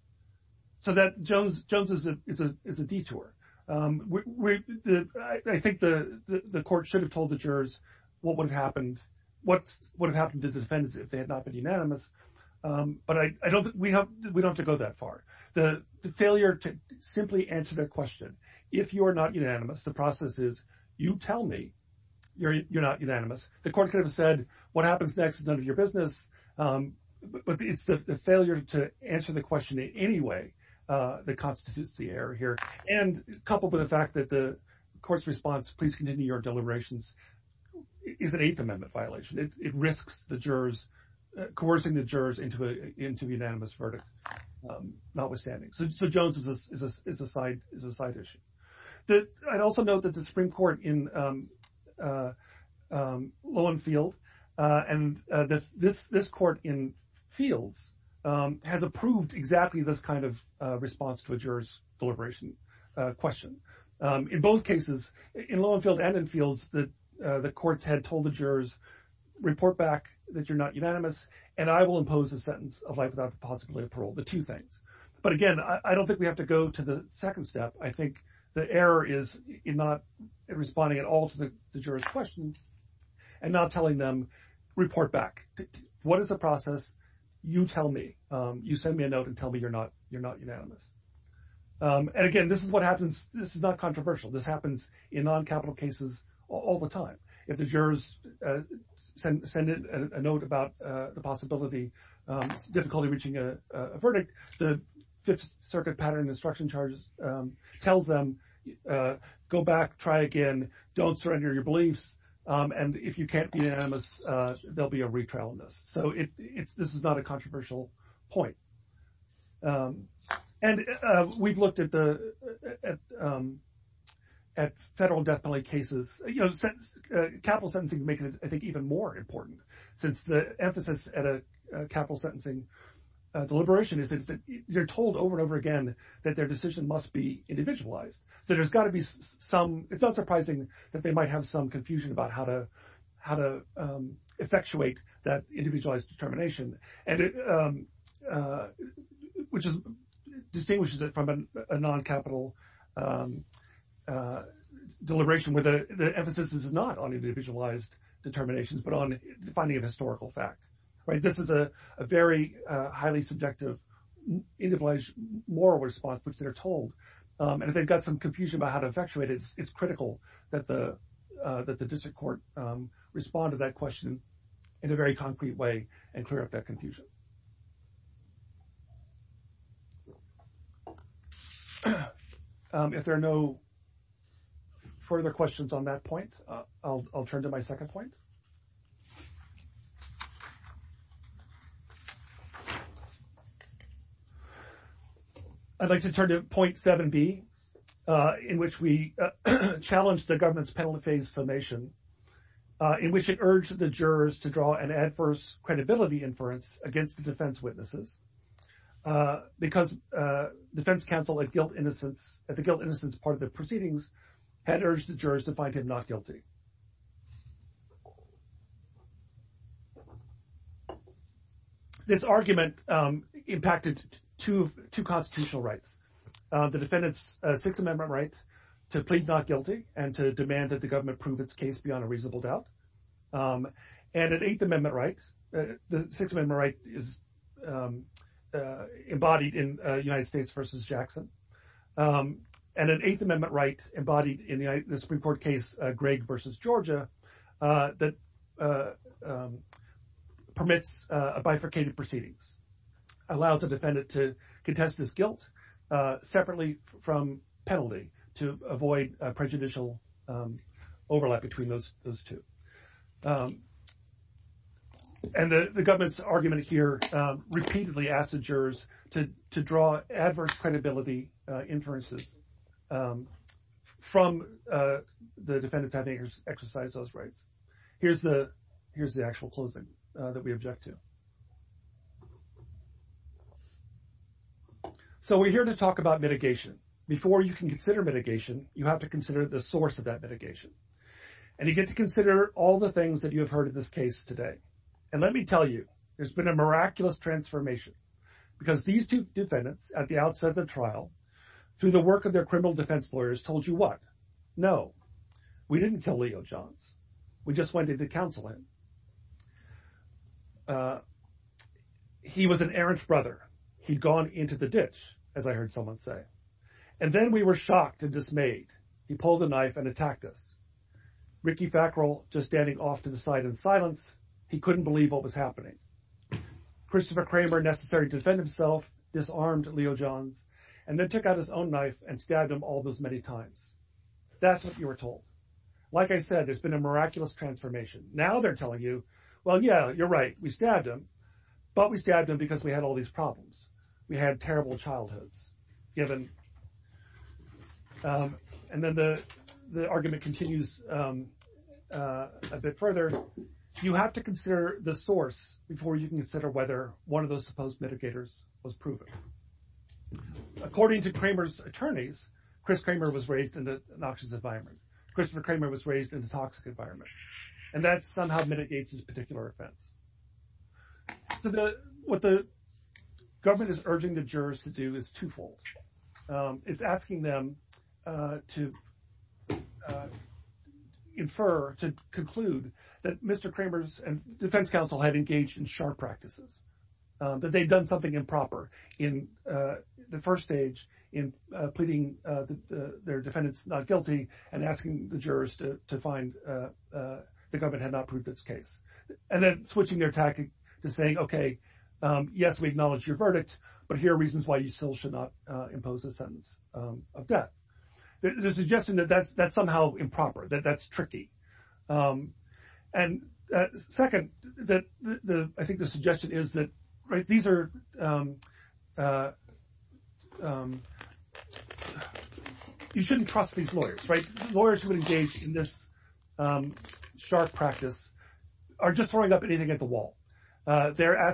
So, Jones is a detour. I think the court should have told the jurors what would have happened to the defendants if they had not been unanimous, but we don't have to go that far. The failure to simply answer the question, if you're not unanimous, the process is, you tell me you're not unanimous. The court could have said, what happens next is none of your business. But it's the failure to answer the question in any way that constitutes the error here. And coupled with the fact that the court's response, please continue your deliberations, is an Eighth Amendment violation. It risks the jurors, coercing the jurors into a unanimous verdict, notwithstanding. So, Jones is a side issue. I'd also note that the Supreme Court in Lowenfield and this court in Fields has approved exactly this kind of response to a juror's deliberation question. In both cases, in Lowenfield and in Fields, the courts had told the jurors, report back that you're not unanimous, and I will impose a sentence of life without possibility of parole, the two things. But, again, I don't think we have to go to the second step. I think the error is in not responding at all to the jurors' questions and not telling them, report back. What is the process? You tell me. You send me a note and tell me you're not unanimous. And, again, this is what happens. This is not controversial. This happens in non-capital cases all the time. If the jurors send a note about the possibility of difficulty reaching a verdict, the Fifth Circuit pattern instruction charge tells them, go back, try again, don't surrender your beliefs, and if you can't be unanimous, there'll be a retrial on this. So, this is not a controversial point. And we've looked at federal death penalty cases. You know, capital sentencing would make it, I think, even more important, since the emphasis at a capital sentencing deliberation is that they're told over and over again that their decision must be individualized. So, it's not surprising that they might have some confusion about how to effectuate that individualized determination. Which distinguishes it from a non-capital deliberation where the emphasis is not on individualized determinations but on finding a historical fact. This is a very highly subjective individualized moral response which they're told. And if they've got some confusion about how to effectuate it, it's critical that the district court respond to that question in a very concrete way and clear up that confusion. If there are no further questions on that point, I'll turn to my second point. I'd like to turn to point 7B, in which we challenged the government's penalty phase formation, in which it urged the jurors to draw an adverse credibility inference against the defense witnesses. Because the defense counsel, at the guilt-innocence part of the proceedings, had urged the jurors to find him not guilty. This argument impacted two constitutional rights. The defendant's Sixth Amendment right to plead not guilty and to demand that the government prove its case beyond a reasonable doubt. And an Eighth Amendment right, the Sixth Amendment right is embodied in United States v. Jackson, and an Eighth Amendment right embodied in the Supreme Court case Gregg v. Georgia that permits a bifurcated proceedings. It allows the defendant to contest his guilt separately from penalty to avoid prejudicial overlap between those two. And the government's argument here repeatedly asked the jurors to draw adverse credibility inferences from the defendants having exercised those rights. Here's the actual closing that we object to. So we're here to talk about mitigation. Before you can consider mitigation, you have to consider the source of that mitigation. And you get to consider all the things that you have heard in this case today. And let me tell you, there's been a miraculous transformation. Because these two defendants, at the outset of the trial, through the work of their criminal defense lawyers, told you what? No, we didn't tell Leo Johns. We just went in to counsel him. He was an errant brother. He'd gone into the ditch, as I heard someone say. And then we were shocked and dismayed. He pulled a knife and attacked us. Ricky Fackrell, just standing off to the side in silence, he couldn't believe what was happening. Christopher Kramer, necessary to defend himself, disarmed Leo Johns, and then took out his own knife and stabbed him all those many times. That's what you were told. Like I said, there's been a miraculous transformation. Now they're telling you, well, yeah, you're right, we stabbed him. But we stabbed him because we had all these problems. We had terrible childhoods, given. And then the argument continues a bit further. You have to consider the source before you can consider whether one of those supposed mitigators was proven. According to Kramer's attorneys, Chris Kramer was raised in an noxious environment. Christopher Kramer was raised in a toxic environment. And that somehow mitigates his particular offense. What the government is urging the jurors to do is twofold. It's asking them to infer, to conclude, that Mr. Kramer's defense counsel had engaged in sharp practices. That they'd done something improper in the first stage in pleading their defendants not guilty and asking the jurors to find the government had not proved this case. And then switching their tactic to saying, okay, yes, we acknowledge your verdict, but here are reasons why you still should not impose a sentence of death. There's a suggestion that that's somehow improper, that that's tricky. And second, I think the suggestion is that you shouldn't trust these lawyers. Lawyers who engage in this sharp practice are just throwing up anything at the wall. They're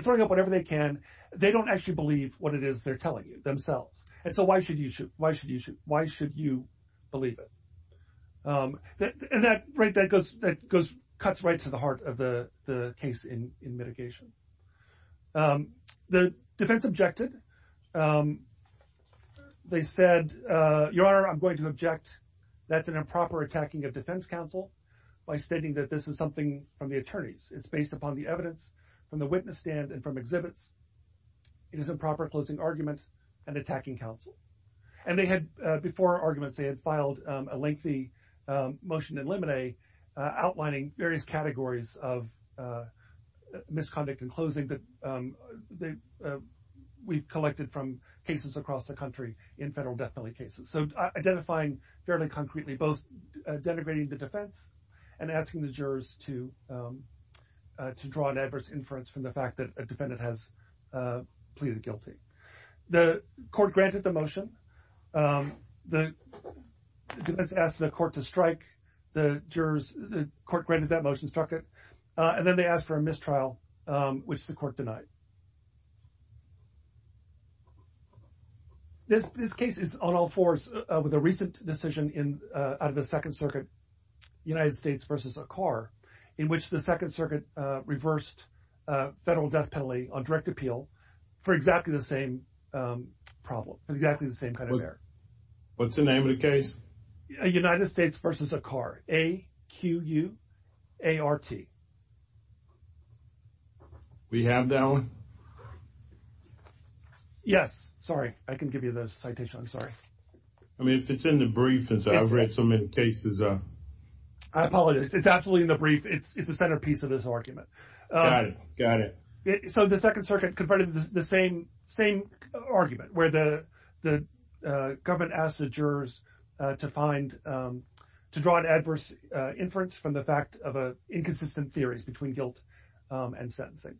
throwing up whatever they can. They don't actually believe what it is they're telling you themselves. And so why should you believe it? And that cuts right to the heart of the case in mitigation. The defense objected. They said, Your Honor, I'm going to object that's an improper attacking of defense counsel by stating that this is something from the attorneys. It's based upon the evidence from the witness stand and from exhibits. It is improper closing arguments and attacking counsel. And before arguments, they had filed a lengthy motion in limine, outlining various categories of misconduct and closing that we've collected from cases across the country in federal death penalty cases. So identifying fairly concretely both denigrating the defense and asking the jurors to draw an adverse inference from the fact that a defendant has pleaded guilty. The court granted the motion. The defense asked the court to strike. The jurors, the court granted that motion, struck it. And then they asked for a mistrial, which the court denied. This case is on all fours with a recent decision in out of the Second Circuit, United States versus a car in which the Second Circuit reversed federal death penalty on direct appeal for exactly the same problem. Exactly the same kind of error. What's the name of the case? United States versus a car. A Q U A R T. We have that one? Yes. Sorry, I can give you the citation. I'm sorry. I mean, if it's in the brief, since I've read so many cases. I apologize. It's absolutely in the brief. It's the centerpiece of this argument. Got it. So the Second Circuit confronted the same argument where the government asked the jurors to find, to draw an adverse inference from the fact of inconsistent theories between guilt and sentencing.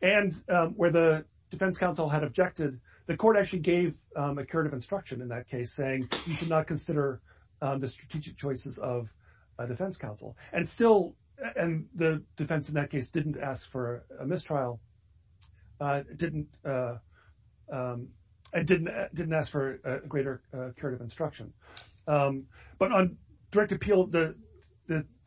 And where the defense counsel had objected, the court actually gave a curative instruction in that case saying you should not consider the strategic choices of a defense counsel. And still, and the defense in that case didn't ask for a mistrial, didn't ask for a greater curative instruction. But on direct appeal, the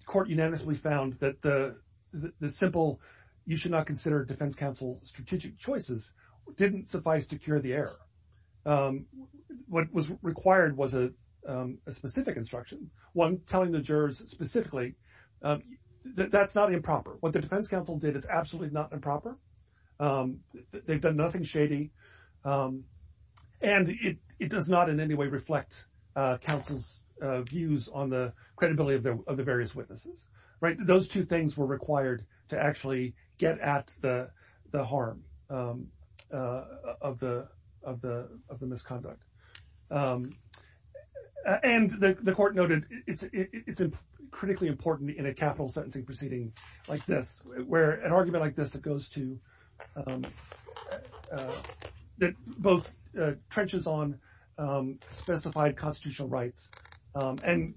court unanimously found that the simple you should not consider defense counsel strategic choices didn't suffice to cure the error. What was required was a specific instruction. One telling the jurors specifically that that's not improper. What the defense counsel did is absolutely not improper. They've done nothing shady. And it does not in any way reflect counsel's views on the credibility of the various witnesses. Those two things were required to actually get at the harm of the misconduct. And the court noted it's critically important in a capital sentencing proceeding like this where an argument like this that goes to, that both trenches on specified constitutional rights and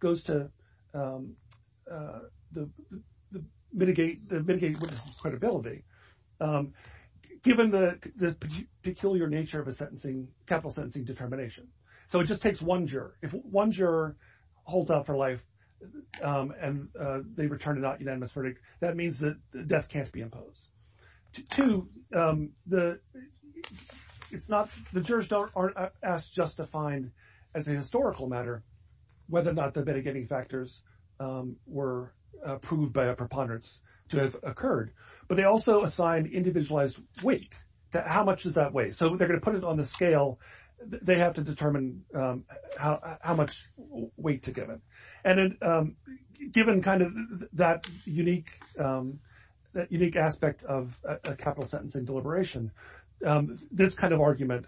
goes to mitigate the credibility. Given the peculiar nature of a capital sentencing determination. So it just takes one juror. If one juror holds out for life and they return a unanimous verdict, that means that death can't be imposed. Two, the jurors aren't asked just to find as a historical matter whether or not the mitigating factors were proved by a preponderance to have occurred. But they also assign individualized weight. How much is that weight? So they're going to put it on the scale. They have to determine how much weight to give it. And given kind of that unique aspect of a capital sentencing deliberation, this kind of argument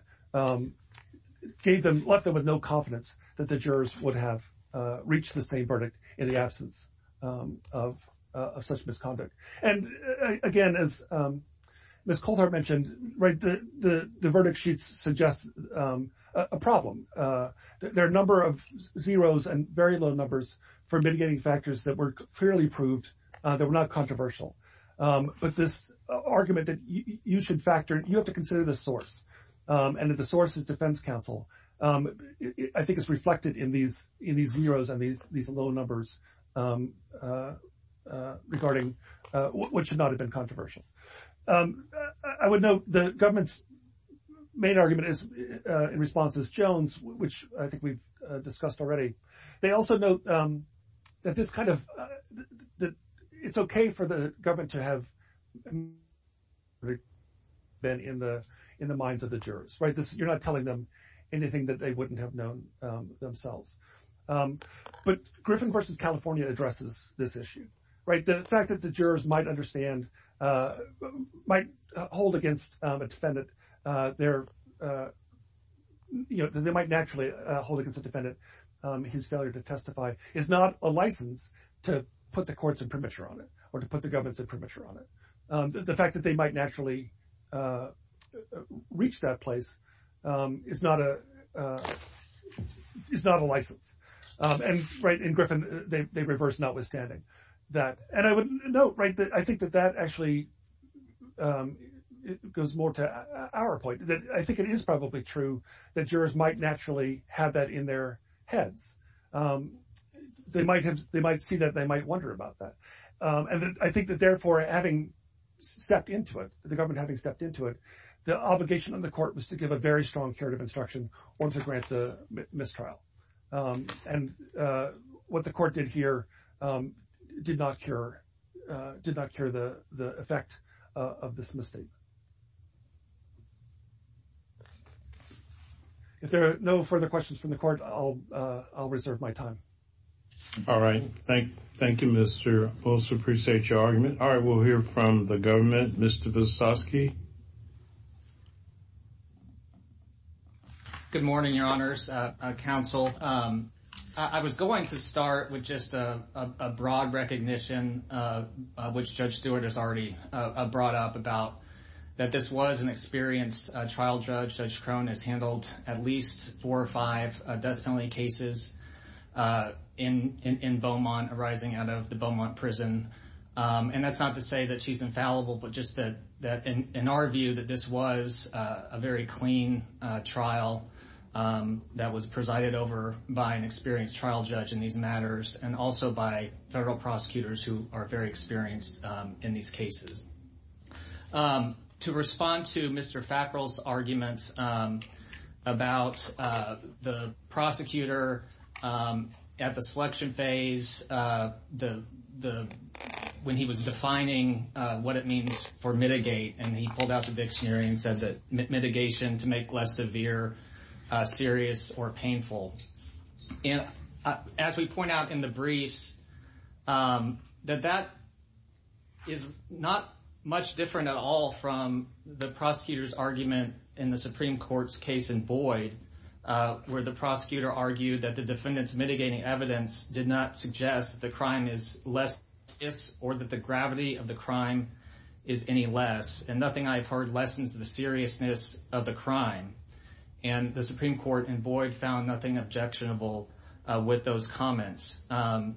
gave them, left them with no confidence that the jurors would have reached the same verdict in the absence of such misconduct. And again, as Ms. Coulthard mentioned, the verdict sheets suggest a problem. There are a number of zeros and very low numbers for mitigating factors that were clearly proved that were not controversial. But this argument that you should factor, you have to consider the source, and that the source is defense counsel, I think is reflected in these zeros and these low numbers regarding what should not have been controversial. I would note the government's main argument in response is Jones, which I think we've discussed already. They also note that it's okay for the government to have been in the minds of the jurors. You're not telling them anything that they wouldn't have known themselves. But Griffin v. California addresses this issue. The fact that the jurors might hold against a defendant his failure to testify is not a license to put the courts in premature on it or to put the government in premature on it. The fact that they might naturally reach that place is not a license. And Griffin, they reverse notwithstanding. And I would note, I think that that actually goes more to our point. I think it is probably true that jurors might naturally have that in their head. They might see that and they might wonder about that. And I think that, therefore, having stepped into it, the government having stepped into it, the obligation on the court was to give a very strong charitable instruction once it grants a mistrial. And what the court did here did not cure the effect of this mistake. If there are no further questions from the court, I'll reserve my time. All right. Thank you, Mr. Wilson. I appreciate your argument. All right. We'll hear from the government. Mr. Visotsky. Good morning, Your Honors. Counsel, I was going to start with just a broad recognition, which Judge Stewart has already brought up about that this was an experienced trial judge. Judge Cronin handled at least four or five definitely cases in Beaumont arising out of the Beaumont prison. And that's not to say that she's infallible, but just that in our view that this was a very clean trial that was presided over by an experienced trial judge in these matters and also by several prosecutors who are very experienced in these cases. To respond to Mr. Fackrell's arguments about the prosecutor at the selection phase, when he was defining what it means for mitigate and he pulled out the big scenario and said that mitigation to make less severe, serious, or painful. And as we point out in the brief, that that is not much different at all from the prosecutor's argument in the Supreme Court's case in Boyd, where the prosecutor argued that the defendants mitigating evidence did not suggest that the crime is less or that the gravity of the crime is any less. And nothing I've heard lessens the seriousness of the crime. And the Supreme Court in Boyd found nothing objectionable with those comments. And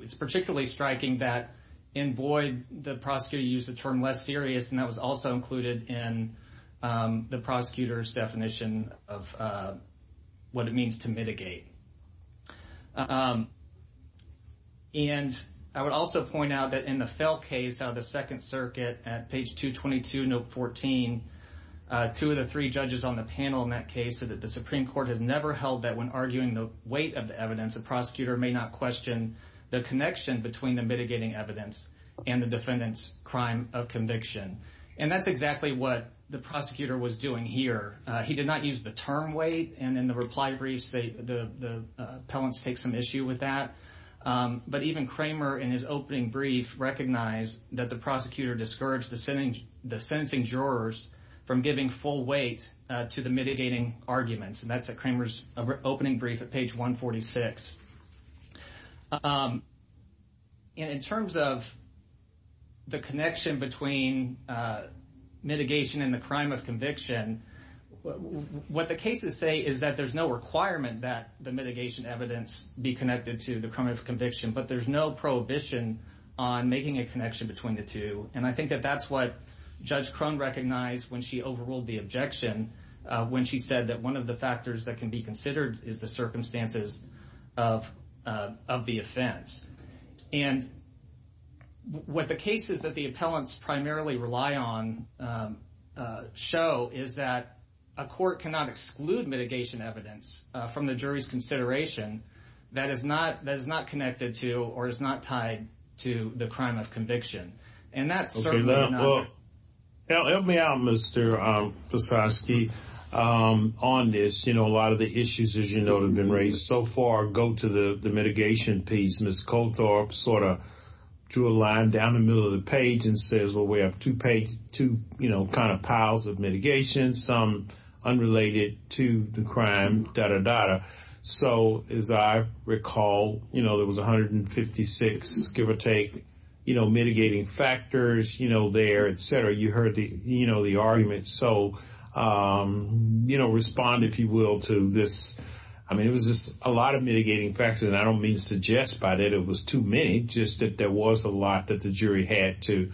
it's particularly striking that in Boyd, the prosecutor used the term less serious, and that was also included in the prosecutor's definition of what it means to mitigate. And I would also point out that in the Fell case out of the Second Circuit at page 222, note 14, two out of three judges on the panel in that case said that the Supreme Court has never held that when arguing the weight of the evidence, the prosecutor may not question the connection between the mitigating evidence and the defendant's crime of conviction. And that's exactly what the prosecutor was doing here. He did not use the term weight. And in the reply briefs, the appellants take some issue with that. But even Kramer in his opening brief recognized that the prosecutor discouraged the sentencing jurors from giving full weight to the mitigating arguments. And that's at Kramer's opening brief at page 146. And in terms of the connection between mitigation and the crime of conviction, what the cases say is that there's no requirement that the mitigation evidence be connected to the crime of conviction, but there's no prohibition on making a connection between the two. And I think that that's what Judge Crone recognized when she overruled the objection when she said that one of the factors that can be considered is the circumstances of the offense. And what the cases that the appellants primarily rely on show is that a court cannot exclude mitigation evidence from the jury's consideration that is not connected to or is not tied to the crime of conviction. Let me add, Mr. Petrovsky, on this, you know, a lot of the issues, as you know, have been raised so far go to the mitigation piece. Ms. Coulthard sort of drew a line down the middle of the page and says, well, we have two piles of mitigation, some unrelated to the crime, da-da-da-da. So, as I recall, you know, there was 156, give or take, you know, mitigating factors, you know, there, et cetera. You heard the, you know, the arguments. So, you know, respond, if you will, to this. I mean, it was just a lot of mitigating factors, and I don't mean to suggest by that it was too many, just that there was a lot that the jury had to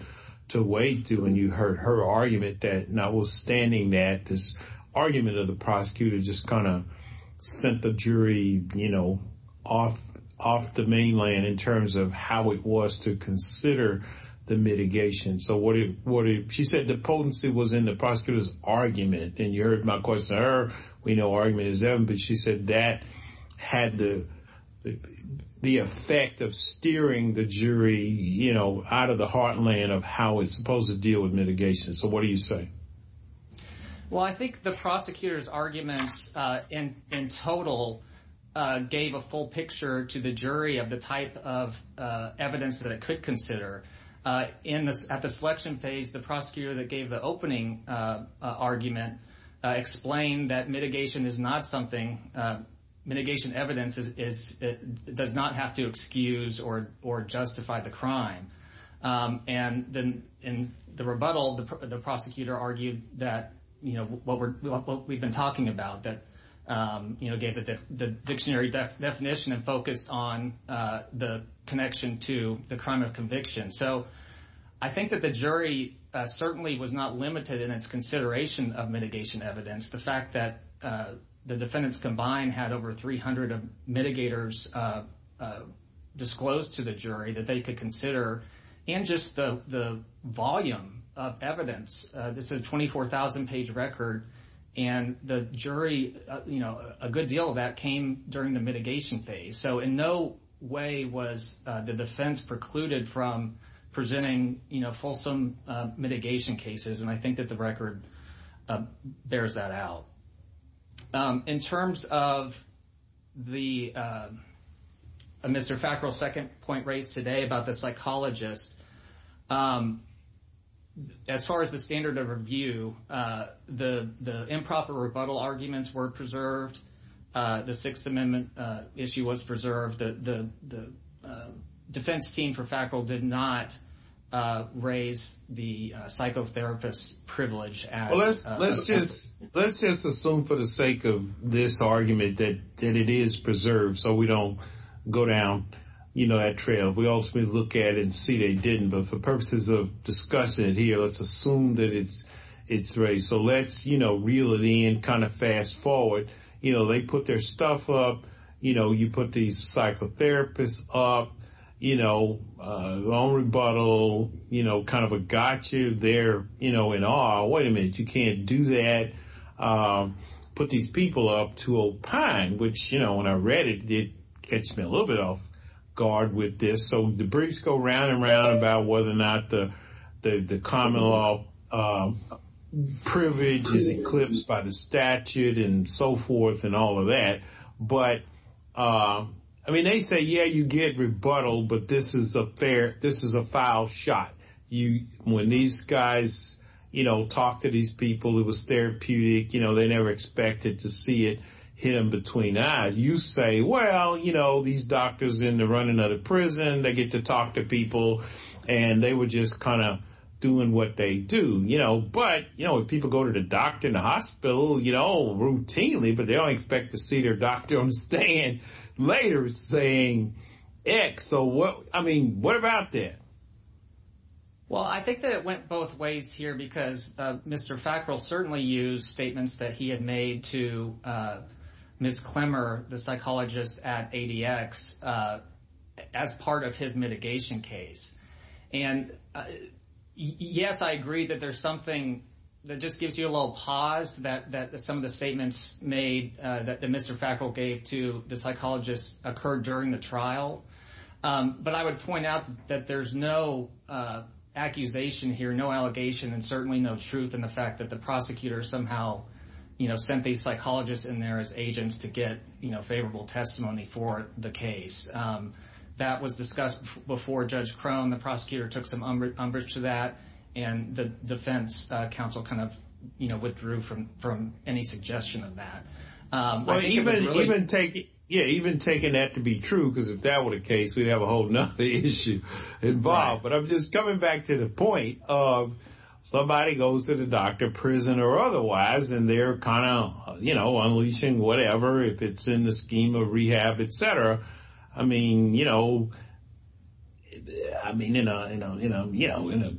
weigh through. And you heard her argument that notwithstanding that, this argument of the prosecutor just kind of sent the jury, you know, off the mainland in terms of how it was to consider the mitigation. So, she said the potency was in the prosecutor's argument, and you heard my question to her. We know argument is them, but she said that had the effect of steering the jury, you know, out of the heartland of how it's supposed to deal with mitigation. So, what do you say? Well, I think the prosecutor's argument in total gave a full picture to the jury of the type of evidence that it could consider. At the selection phase, the prosecutor that gave the opening argument explained that mitigation is not something, mitigation evidence does not have to excuse or justify the crime. And in the rebuttal, the prosecutor argued that, you know, what we've been talking about, that, you know, gave the dictionary definition and focus on the connection to the crime of conviction. So, I think that the jury certainly was not limited in its consideration of mitigation evidence. The fact that the defendants combined had over 300 mitigators disclosed to the jury that they could consider, and just the volume of evidence. This is a 24,000-page record, and the jury, you know, a good deal of that came during the mitigation phase. So, in no way was the defense precluded from presenting, you know, fulsome mitigation cases, and I think that the record bears that out. In terms of the Mr. Fackrell's second point raised today about the psychologist, as far as the standard of review, the improper rebuttal arguments were preserved. The Sixth Amendment issue was preserved. The defense team for Fackrell did not raise the psychotherapist's privilege. Well, let's just assume for the sake of this argument that it is preserved so we don't go down, you know, that trail. We also look at it and see that it didn't, but for purposes of discussion here, let's assume that it's raised. So, let's, you know, reel it in, kind of fast forward. You know, they put their stuff up. You know, you put these psychotherapists up. You know, long rebuttal, you know, kind of a gotcha there, you know, in awe. Wait a minute, you can't do that. Put these people up to opine, which, you know, when I read it, it catched me a little bit off guard with this. So, the briefs go round and round about whether or not the common law privilege is eclipsed by the statute and so forth and all of that. But, I mean, they say, yeah, you get rebuttal, but this is a foul shot. When these guys, you know, talk to these people, it was therapeutic. You know, they never expected to see it hit them between the eyes. You say, well, you know, these doctors in the running of the prison, they get to talk to people, and they were just kind of doing what they do. You know, but, you know, if people go to the doctor in the hospital, you know, routinely, but they don't expect to see their doctor on the stand later saying X. So, what, I mean, what about that? Well, I think that it went both ways here because Mr. Fackrell certainly used statements that he had made to Ms. Clemmer, the psychologist at ADX, as part of his mitigation case. And, yes, I agree that there's something that just gives you a little pause that some of the statements made that Mr. Fackrell gave to the psychologist occurred during the trial. But I would point out that there's no accusation here, no allegation, and certainly no truth in the fact that the prosecutor somehow, you know, sent the psychologist in there as agents to get, you know, favorable testimony for the case. That was discussed before Judge Crone. The prosecutor took some umbrage to that, and the defense counsel kind of, you know, withdrew from any suggestion of that. Even taking that to be true, because if that were the case, we'd have a whole nother issue involved. But I'm just coming back to the point of somebody goes to the doctor, prison or otherwise, and they're kind of, you know, unleashing whatever, if it's in the scheme of rehab, et cetera. I mean, you know, I mean, you know,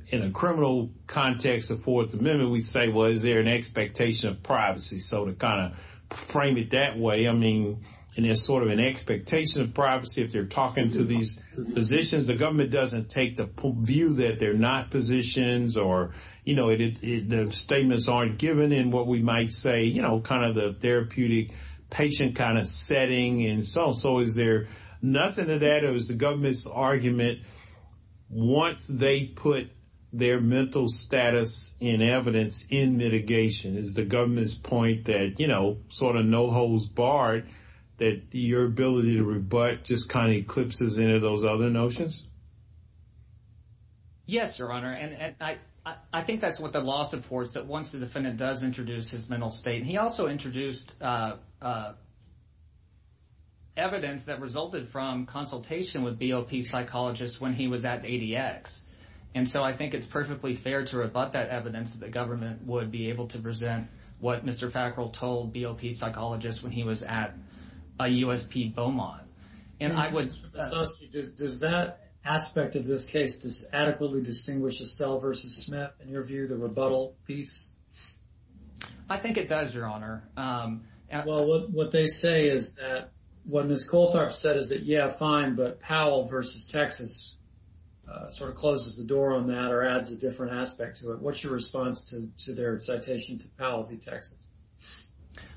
in a criminal context of Fourth Amendment, we say, well, is there an expectation of privacy? So to kind of frame it that way, I mean, is there sort of an expectation of privacy if they're talking to these physicians? The government doesn't take the view that they're not physicians or, you know, the statements aren't given in what we might say, you know, kind of the therapeutic patient kind of setting and so on. So is there nothing to that? So is the government's argument, once they put their mental status in evidence in litigation, is the government's point that, you know, sort of no holds barred, that your ability to rebut just kind of eclipses any of those other notions? Yes, Your Honor, and I think that's what the law supports, that once the defendant does introduce his mental state, he also introduced evidence that resulted from consultation with BOP psychologists when he was at ADX. And so I think it's perfectly fair to rebut that evidence that the government would be able to present what Mr. Fackrell told BOP psychologists when he was at USP Beaumont. And I would – Does that aspect of this case adequately distinguish Estelle versus Smith in your view, the rebuttal piece? I think it does, Your Honor. Well, what they say is that what Ms. Coltharpe said is that, yeah, fine, but Powell versus Texas sort of closes the door on that or adds a different aspect to it. What's your response to their citation to Powell v. Texas?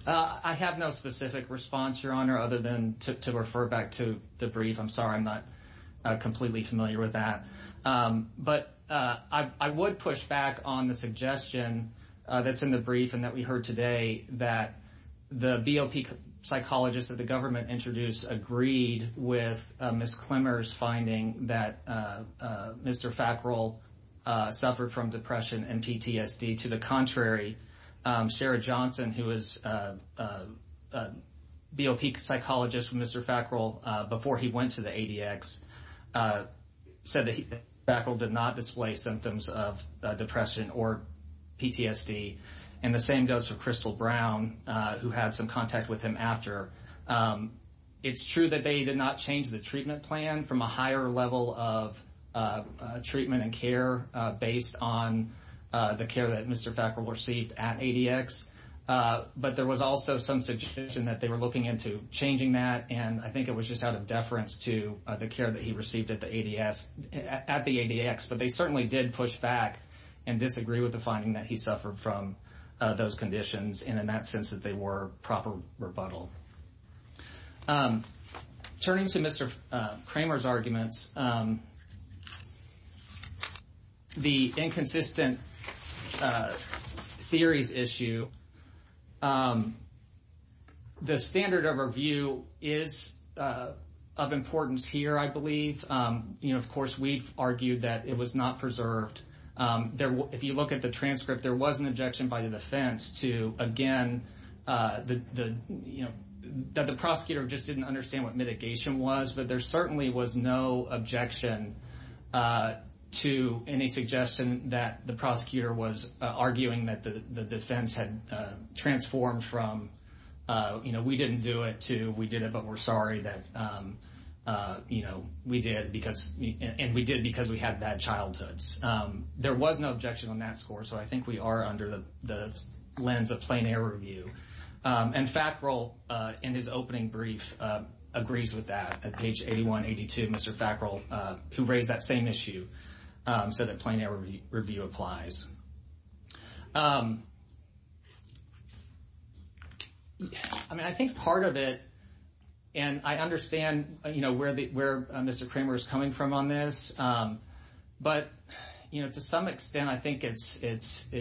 I have no specific response, Your Honor, other than to refer back to the brief. I'm sorry I'm not completely familiar with that. But I would push back on the suggestion that's in the brief and that we heard today that the BOP psychologists that the government introduced agreed with Ms. Quimmer's finding that Mr. Fackrell suffered from depression and PTSD. To the contrary, Sarah Johnson, who was a BOP psychologist with Mr. Fackrell before he went to the ADX, said that Mr. Fackrell did not display symptoms of depression or PTSD, and the same goes for Crystal Brown, who had some contact with him after. It's true that they did not change the treatment plan from a higher level of treatment and care based on the care that Mr. Fackrell received at ADX. But there was also some suggestion that they were looking into changing that, and I think it was just out of deference to the care that he received at the ADX. But they certainly did push back and disagree with the finding that he suffered from those conditions, and in that sense that they were proper rebuttal. Turning to Mr. Kramer's arguments, the inconsistent theories issue, the standard overview is of importance here, I believe. Of course, we've argued that it was not preserved. If you look at the transcript, there was an objection by the defense to, again, that the prosecutor just didn't understand what mitigation was, but there certainly was no objection to any suggestion that the prosecutor was arguing that the defense had transformed from, you know, we didn't do it to we did it but we're sorry that, you know, we did, and we did because we had bad childhoods. There was no objection on that score, so I think we are under the lens of plain error review. And Fackrell, in his opening brief, agrees with that. At page 8182, Mr. Fackrell, who raised that same issue, said that plain error review applies. I mean, I think part of it, and I understand, you know, where Mr. Kramer is coming from on this, but, you know, to some extent I think it's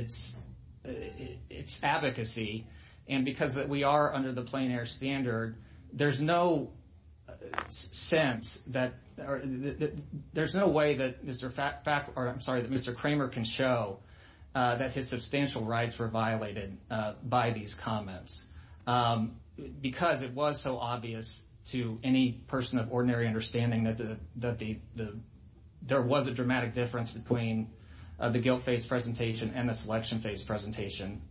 advocacy, and because we are under the plain error standard, there's no sense that or there's no way that Mr. Fackrell, or I'm sorry, that Mr. Kramer can show that his substantial rights were violated by these comments, because it was so obvious to any person of ordinary understanding that there was a dramatic difference between the guilt-based presentation and the selection-based presentation.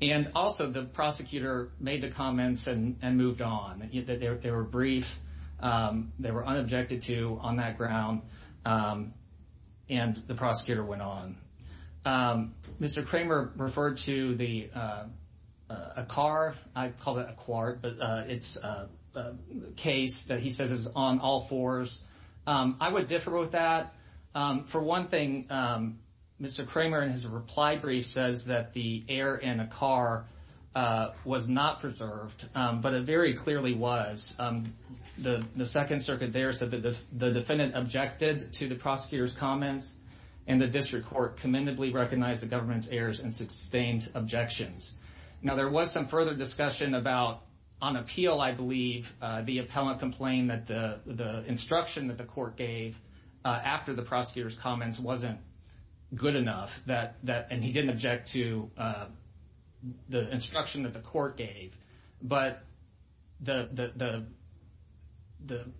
And also the prosecutor made the comments and moved on. They were brief. They were unobjected to on that ground, and the prosecutor went on. Mr. Kramer referred to a car. I call that a quart, but it's a case that he said is on all fours. I would differ with that. For one thing, Mr. Kramer, in his reply brief, says that the error in a car was not preserved, but it very clearly was. The Second Circuit there said that the defendant objected to the prosecutor's comments, and the district court commendably recognized the government's errors and sustained objections. Now, there was some further discussion about, on appeal, I believe, the appellant complained that the instruction that the court gave after the prosecutor's comments wasn't good enough, and he didn't object to the instruction that the court gave. But the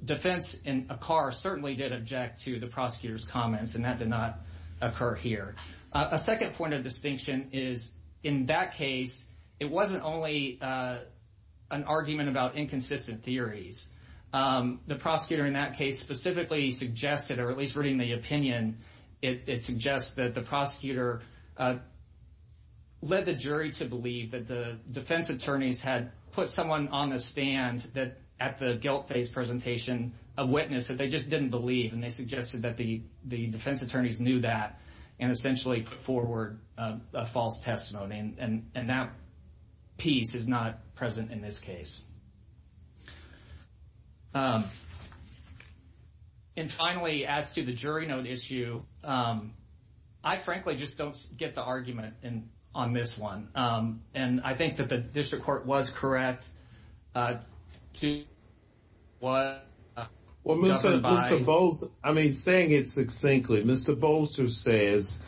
defense in a car certainly did object to the prosecutor's comments, and that did not occur here. A second point of distinction is, in that case, it wasn't only an argument about inconsistent theories. The prosecutor in that case specifically suggested, or at least reading the opinion, it suggests that the prosecutor led the jury to believe that the defense attorneys had put someone on the stand at the guilt-based presentation, a witness, that they just didn't believe, and they suggested that the defense attorneys knew that and essentially forward a false testimony. And that piece is not present in this case. And finally, as to the jury note issue, I frankly just don't get the argument on this one, and I think that the district court was correct. Well, Mr. Bolzer, I mean, saying it succinctly, Mr. Bolzer says,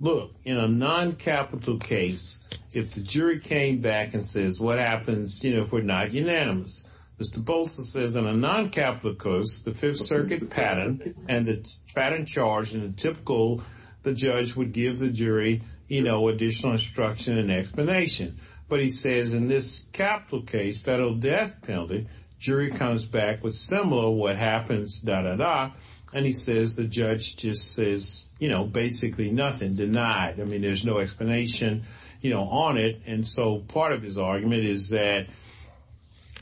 look, in a noncapital case, if the jury came back and says, what happens, you know, if we're not unanimous, Mr. Bolzer says, in a noncapital case, the Fifth Circuit pattern, and the pattern charged in the typical, the judge would give the jury, you know, additional instruction and explanation. But he says, in this capital case, federal death penalty, jury comes back with similar what happens, da, da, da, and he says the judge just says, you know, basically nothing, denied. I mean, there's no explanation, you know, on it. And so part of his argument is that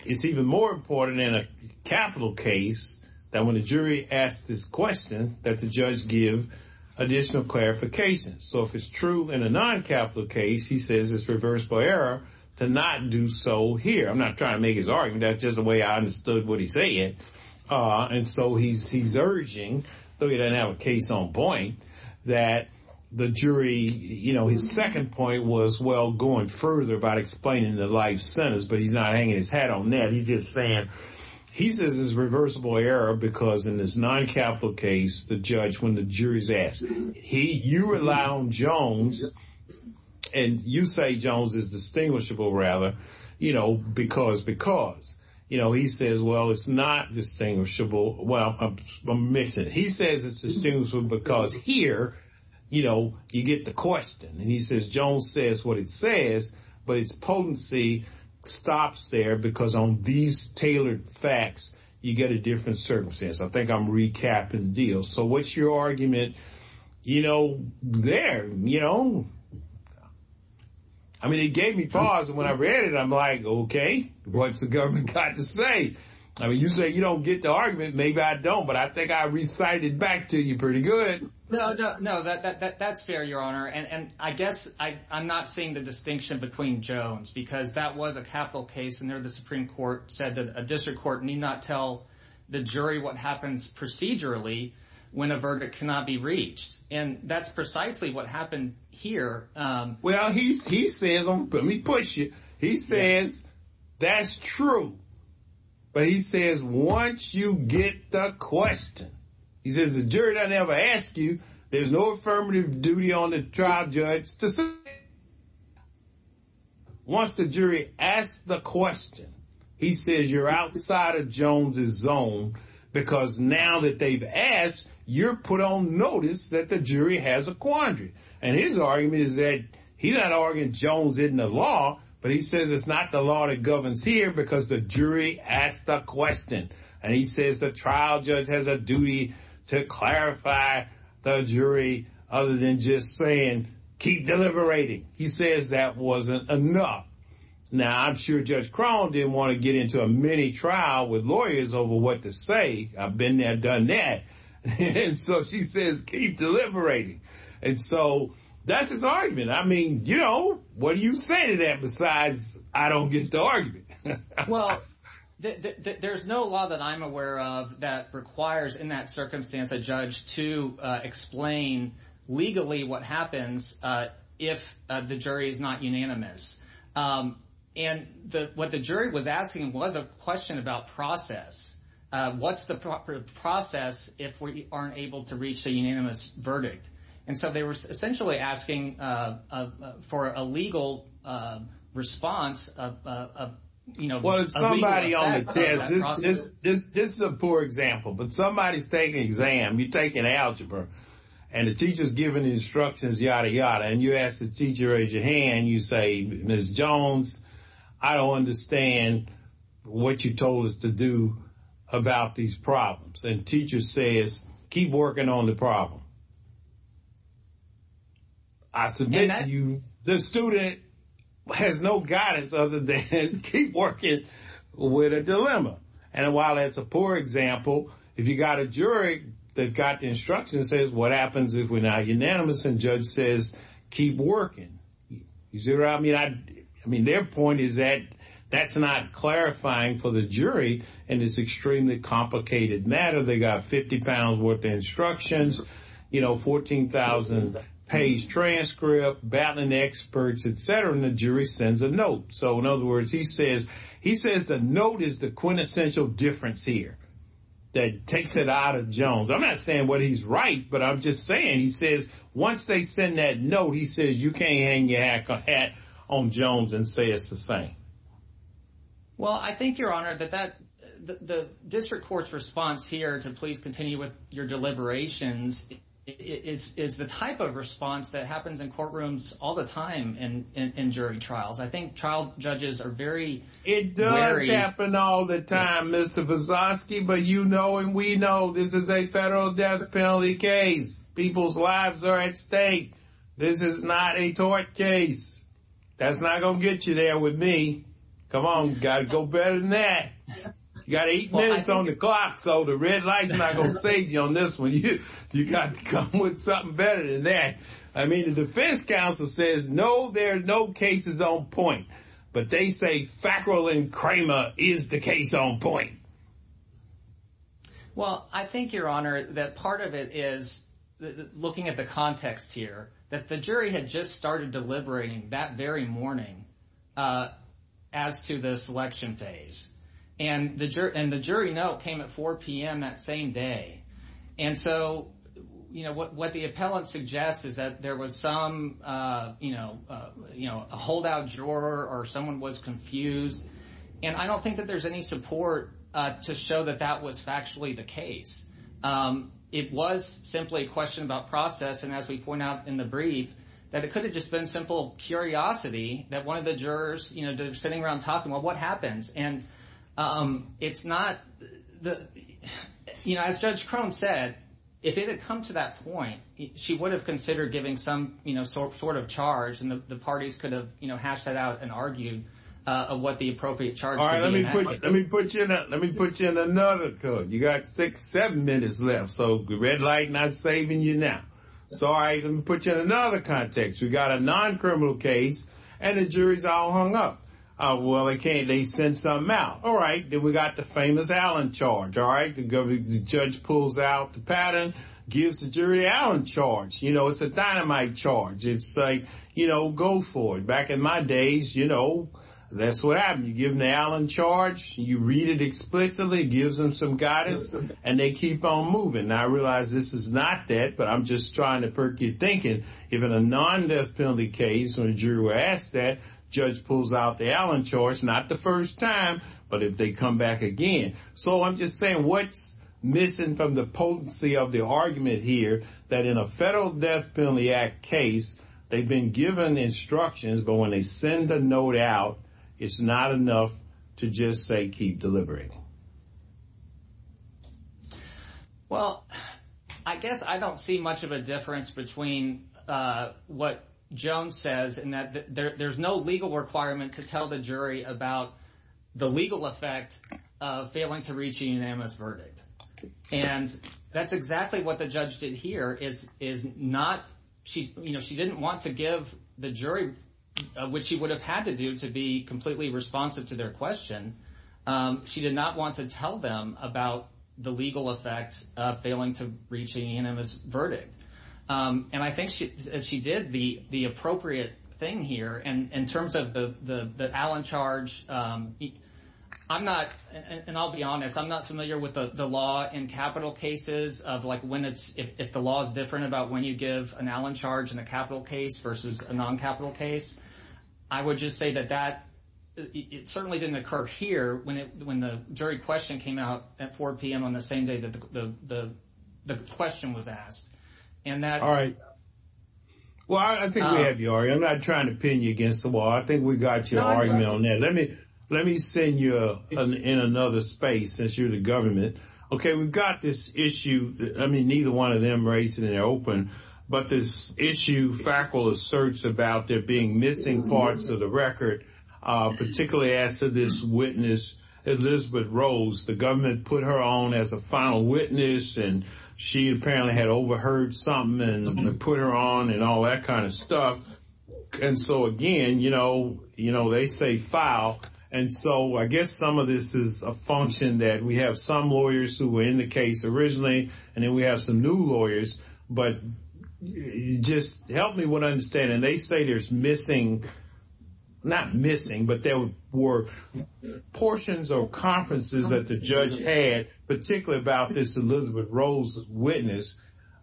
it's even more important in a capital case that when the jury asks this question that the judge give additional clarification. So if it's true in a noncapital case, he says it's reversible error to not do so here. I'm not trying to make his argument. That's just the way I understood what he said. And so he's urging, so he doesn't have a case on point, that the jury, you know, his second point was, well, going further about explaining the life sentence, but he's not hanging his hat on that. He's just saying, he says it's reversible error because in this noncapital case, the judge, when the jury's asked, he, you rely on Jones, and you say Jones is distinguishable, rather, you know, because, because. You know, he says, well, it's not distinguishable. Well, I'm missing. He says it's distinguishable because here, you know, you get the question. And he says Jones says what it says, but its potency stops there because on these tailored facts, you get a different circumstance. I think I'm recapping the deal. So what's your argument, you know, there? You know, I mean, it gave me pause, and when I read it, I'm like, okay, what's the government got to say? I mean, you say you don't get the argument. Maybe I don't, but I think I recited back to you pretty good. No, that's fair, Your Honor, and I guess I'm not seeing the distinction between Jones because that was a capital case, and there the Supreme Court said that a district court need not tell the jury what happens procedurally when a verdict cannot be reached. And that's precisely what happened here. Well, he says, let me push you, he says that's true. But he says once you get the question, he says the jury doesn't have to ask you. There's no affirmative duty on the trial judge to say that. Once the jury asks the question, he says you're outside of Jones' zone because now that they've asked, you're put on notice that the jury has a quandary. And his argument is that he's not arguing Jones isn't the law, but he says it's not the law that governs here because the jury asked the question. And he says the trial judge has a duty to clarify the jury other than just saying keep deliberating. He says that wasn't enough. Now, I'm sure Judge Cron didn't want to get into a mini trial with lawyers over what to say. I've been there, done that. And so she says keep deliberating. And so that's his argument. I mean, you know, what do you say to that besides I don't get to argue? Well, there's no law that I'm aware of that requires in that circumstance a judge to explain legally what happens if the jury is not unanimous. And what the jury was asking was a question about process. What's the proper process if we aren't able to reach a unanimous verdict? And so they were essentially asking for a legal response. Well, somebody on the test, this is a poor example, but somebody's taking an exam, you're taking algebra, and the teacher's giving instructions, yada, yada, and you ask the teacher to raise your hand, you say, Ms. Jones, I don't understand what you told us to do about these problems. And the teacher says keep working on the problem. The student has no guidance other than keep working with a dilemma. And while that's a poor example, if you've got a jury that's got instructions, what happens is we're not unanimous and the judge says keep working. I mean, their point is that that's not clarifying for the jury in this extremely complicated matter. They've got 50 pounds worth of instructions, you know, 14,000-page transcript, battling experts, et cetera, and the jury sends a note. So, in other words, he says the note is the quintessential difference here that takes it out of Jones. I'm not saying what he's right, but I'm just saying he says once they send that note, he says you can't hang your hat on Jones and say it's the same. Well, I think, Your Honor, the district court's response here to please continue with your deliberations is the type of response that happens in courtrooms all the time in jury trials. I think trial judges are very wary. It does happen all the time, Mr. Vazoski, but you know and we know this is a federal death penalty case. People's lives are at stake. This is not a tort case. That's not going to get you there with me. Come on, you've got to go better than that. You've got eight minutes on the clock, so the red light's not going to save you on this one. You've got to come up with something better than that. I mean, the defense counsel says no, there are no cases on point, but they say Fackrell and Kramer is the case on point. Well, I think, Your Honor, that part of it is looking at the context here, that the jury had just started deliberating that very morning as to this election phase, and the jury note came at 4 p.m. that same day. And so, you know, what the appellant suggests is that there was some, you know, a holdout juror or someone was confused, and I don't think that there's any support to show that that was actually the case. It was simply a question about process, and as we point out in the brief, that it could have just been simple curiosity that one of the jurors, you know, they're sitting around talking about what happens. And it's not, you know, as Judge Crum said, if it had come to that point, she would have considered giving some, you know, sort of charge, and the parties could have, you know, hashed that out and argued what the appropriate charge would have been. All right, let me put you in another code. You've got six, seven minutes left, so the red light not saving you now. So, all right, let me put you in another context. You've got a non-criminal case, and the jury's all hung up. Well, okay, they send something out. All right, then we've got the famous Allen charge, all right? The judge pulls out the pattern, gives the jury the Allen charge. You know, it's a dynamite charge. It's like, you know, go for it. Back in my days, you know, that's what happened. You give them the Allen charge, you read it explicitly, gives them some guidance, and they keep on moving. Now, I realize this is not that, but I'm just trying to perk your thinking. If in a non-death penalty case, when a jury were asked that, the judge pulls out the Allen charge, not the first time, but if they come back again. So, I'm just saying, what's missing from the potency of the argument here that in a Federal Death Penalty Act case, they've been given instructions, but when they send the note out, it's not enough to just say keep delivering? Well, I guess I don't see much of a difference between what Joan says and that there's no legal requirement to tell the jury about the legal effect of failing to reach a unanimous verdict. And that's exactly what the judge did here is not, you know, she didn't want to give the jury what she would have had to do to be completely responsive to their question. She did not want to tell them about the legal effect of failing to reach a unanimous verdict. And I think she did the appropriate thing here. In terms of the Allen charge, I'm not, and I'll be honest, I'm not familiar with the law in capital cases of, like, if the law is different about when you give an Allen charge in a capital case versus a non-capital case. I would just say that that certainly didn't occur here. When the jury question came out at 4 p.m. on the same day that the question was asked. All right. Well, I think we have you already. I'm not trying to pin you against the wall. I think we've got your argument on there. Let me send you in another space since you're the government. Okay, we've got this issue. I mean, neither one of them raised it in open, but this issue faculty searched about there being missing parts of the record, particularly after this witness, Elizabeth Rose. The government put her on as a final witness, and she apparently had overheard something and put her on and all that kind of stuff. And so, again, you know, they say file. And so I guess some of this is a function that we have some lawyers who were in the case originally, and then we have some new lawyers. But just help me with what I'm saying. And they say there's missing, not missing, but there were portions of conferences that the judge had, particularly about this Elizabeth Rose witness,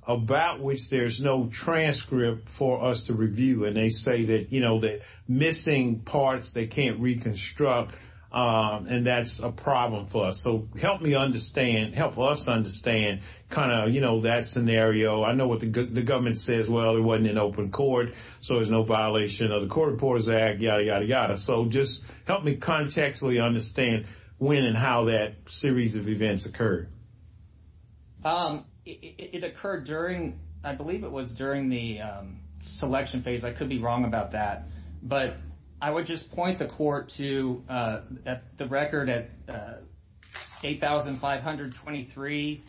about which there's no transcript for us to review. And they say that, you know, that missing parts they can't reconstruct, and that's a problem for us. So help me understand, help us understand kind of, you know, that scenario. I know what the government says. Well, there wasn't an open court. So there's no violation of the Court Reporters Act, yada, yada, yada. So just help me contextually understand when and how that series of events occurred. It occurred during, I believe it was during the selection phase. I could be wrong about that. But I would just point the court to the record at 8,523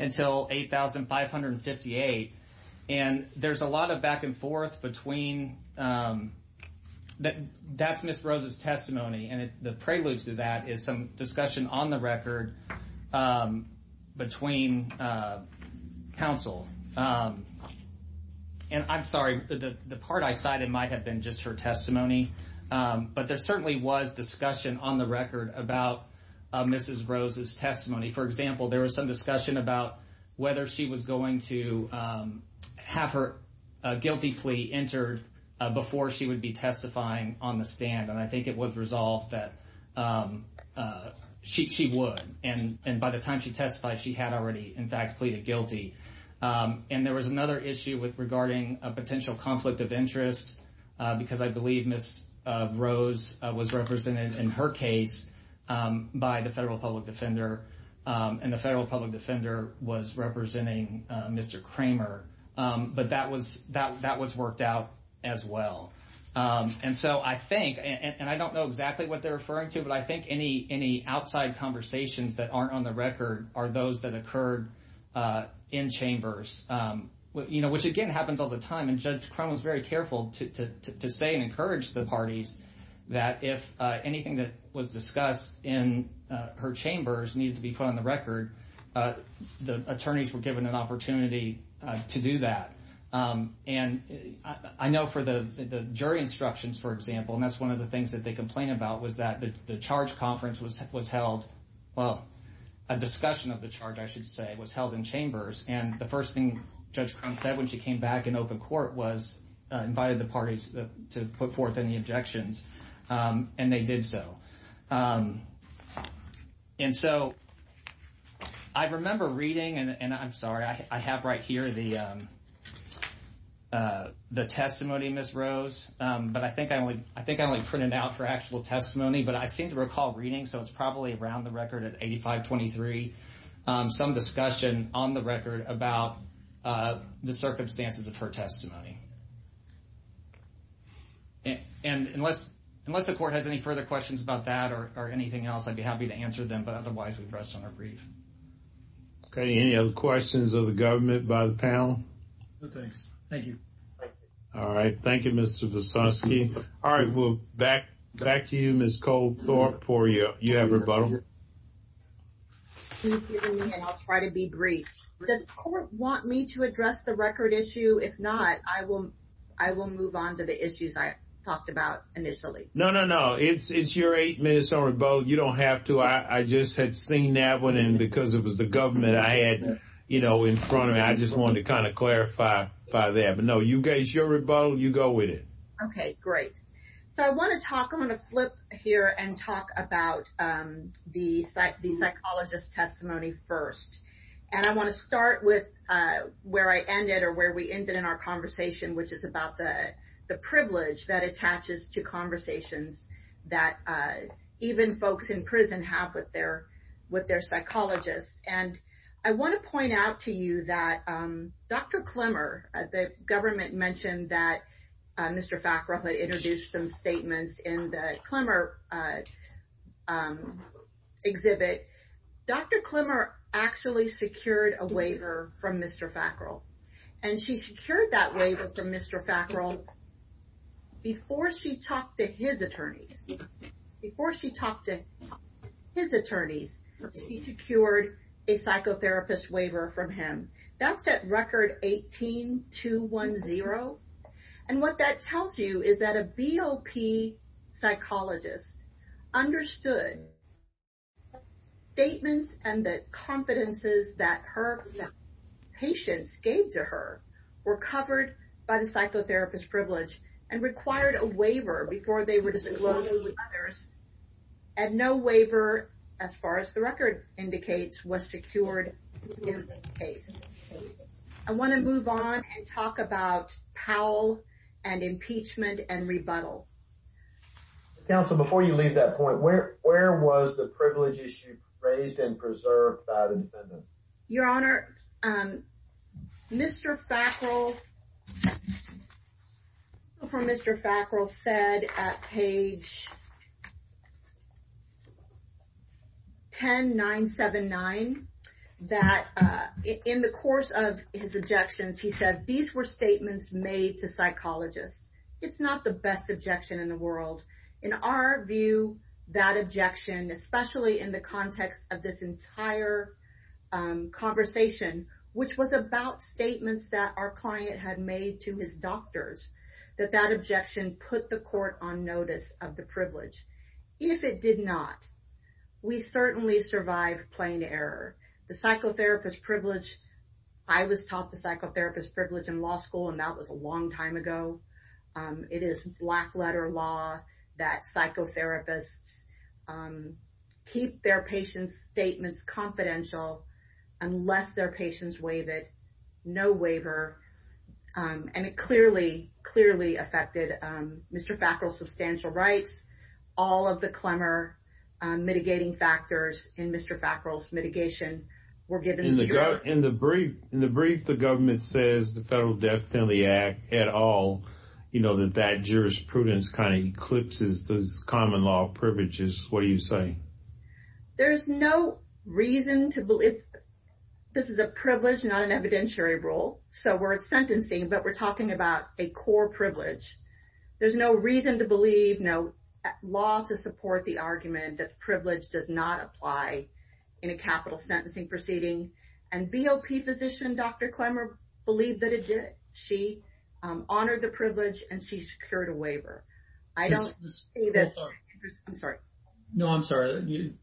until 8,558. And there's a lot of back and forth between that's Ms. Rose's testimony. And the prelude to that is some discussion on the record between counsel. And I'm sorry, the part I cited might have been just her testimony. But there certainly was discussion on the record about Ms. Rose's testimony. For example, there was some discussion about whether she was going to have her guilty plea entered before she would be testifying on the stand. And I think it was resolved that she would. And by the time she testified, she had already, in fact, pleaded guilty. And there was another issue regarding a potential conflict of interest, because I believe Ms. Rose was represented in her case by the federal public defender, and the federal public defender was representing Mr. Kramer. But that was worked out as well. And so I think, and I don't know exactly what they're referring to, but I think any outside conversations that aren't on the record are those that occurred in chambers, which, again, happens all the time. And Judge Crum was very careful to say and encourage the parties that if anything that was discussed in her chambers needed to be put on the record, the attorneys were given an opportunity to do that. And I know for the jury instructions, for example, and that's one of the things that they complained about, was that the charge conference was held, well, a discussion of the charge, I should say, was held in chambers. And the first thing Judge Crum said when she came back in open court was she invited the parties to put forth any objections, and they did so. And so I remember reading, and I'm sorry, I have right here the testimony, Ms. Rose, but I think I only printed out her actual testimony. But I seem to recall reading, so it's probably around the record at 8523, some discussion on the record about the circumstances of her testimony. And unless the court has any further questions about that or anything else, I'd be happy to answer them, but otherwise we'll press on our brief. Okay. Any other questions of the government by the panel? No, thanks. Thank you. All right. Thank you, Mr. Visosky. All right. Back to you, Ms. Coldthorpe, for you. You have rebuttal? I'll try to be brief. Does the court want me to address the record issue? If not, I will move on to the issues I talked about initially. No, no, no. It's your eight minutes on rebuttal. You don't have to. I just had seen that one, and because it was the government I had, you know, in front of me, I just wanted to kind of clarify that. But, no, it's your rebuttal. You go with it. Okay, great. So I want to flip here and talk about the psychologist's testimony first. And I want to start with where I ended or where we ended in our conversation, which is about the privilege that attaches to conversations that even folks in prison have with their psychologists. And I want to point out to you that Dr. Klemmer, the government mentioned that Mr. Fackrell had introduced some statements in the Klemmer exhibit. Dr. Klemmer actually secured a waiver from Mr. Fackrell. And she secured that waiver from Mr. Fackrell before she talked to his attorney. Before she talked to his attorney, he secured a psychotherapist waiver from him. That's at record 18-210. And what that tells you is that a BOP psychologist understood statements and the competences that her patients gave to her were covered by the psychotherapist privilege and required a waiver before they were disclosed to others. And no waiver, as far as the record indicates, was secured in this case. I want to move on and talk about Powell and impeachment and rebuttal. Counsel, before you make that point, where was the privilege issue raised and preserved by the defendant? Your Honor, Mr. Fackrell, before Mr. Fackrell said at page 10979 that in the course of his objections, he said, these were statements made to psychologists. It's not the best objection in the world. In our view, that objection, especially in the context of this entire conversation, which was about statements that our client had made to his doctors, that that objection put the court on notice of the privilege. If it did not, we certainly survived plain error. The psychotherapist privilege, I was taught the psychotherapist privilege in law school and that was a long time ago. It is black letter law that psychotherapists keep their patients' statements confidential unless their patients waive it. No waiver. And it clearly, clearly affected Mr. Fackrell's substantial rights. All of the clemor mitigating factors in Mr. Fackrell's mitigation were given to the court. In the brief, the government says the federal death penalty act at all, you know, that that jurisprudence kind of eclipses the common law privileges. What are you saying? There's no reason to believe. This is a privilege, not an evidentiary rule. So we're at sentencing, but we're talking about a core privilege. There's no reason to believe no law to support the argument that privilege does not apply in a capital sentencing proceeding and BOP physician, Dr. Clemor believed that she honored the privilege and she secured a waiver. I'm sorry. No, I'm sorry.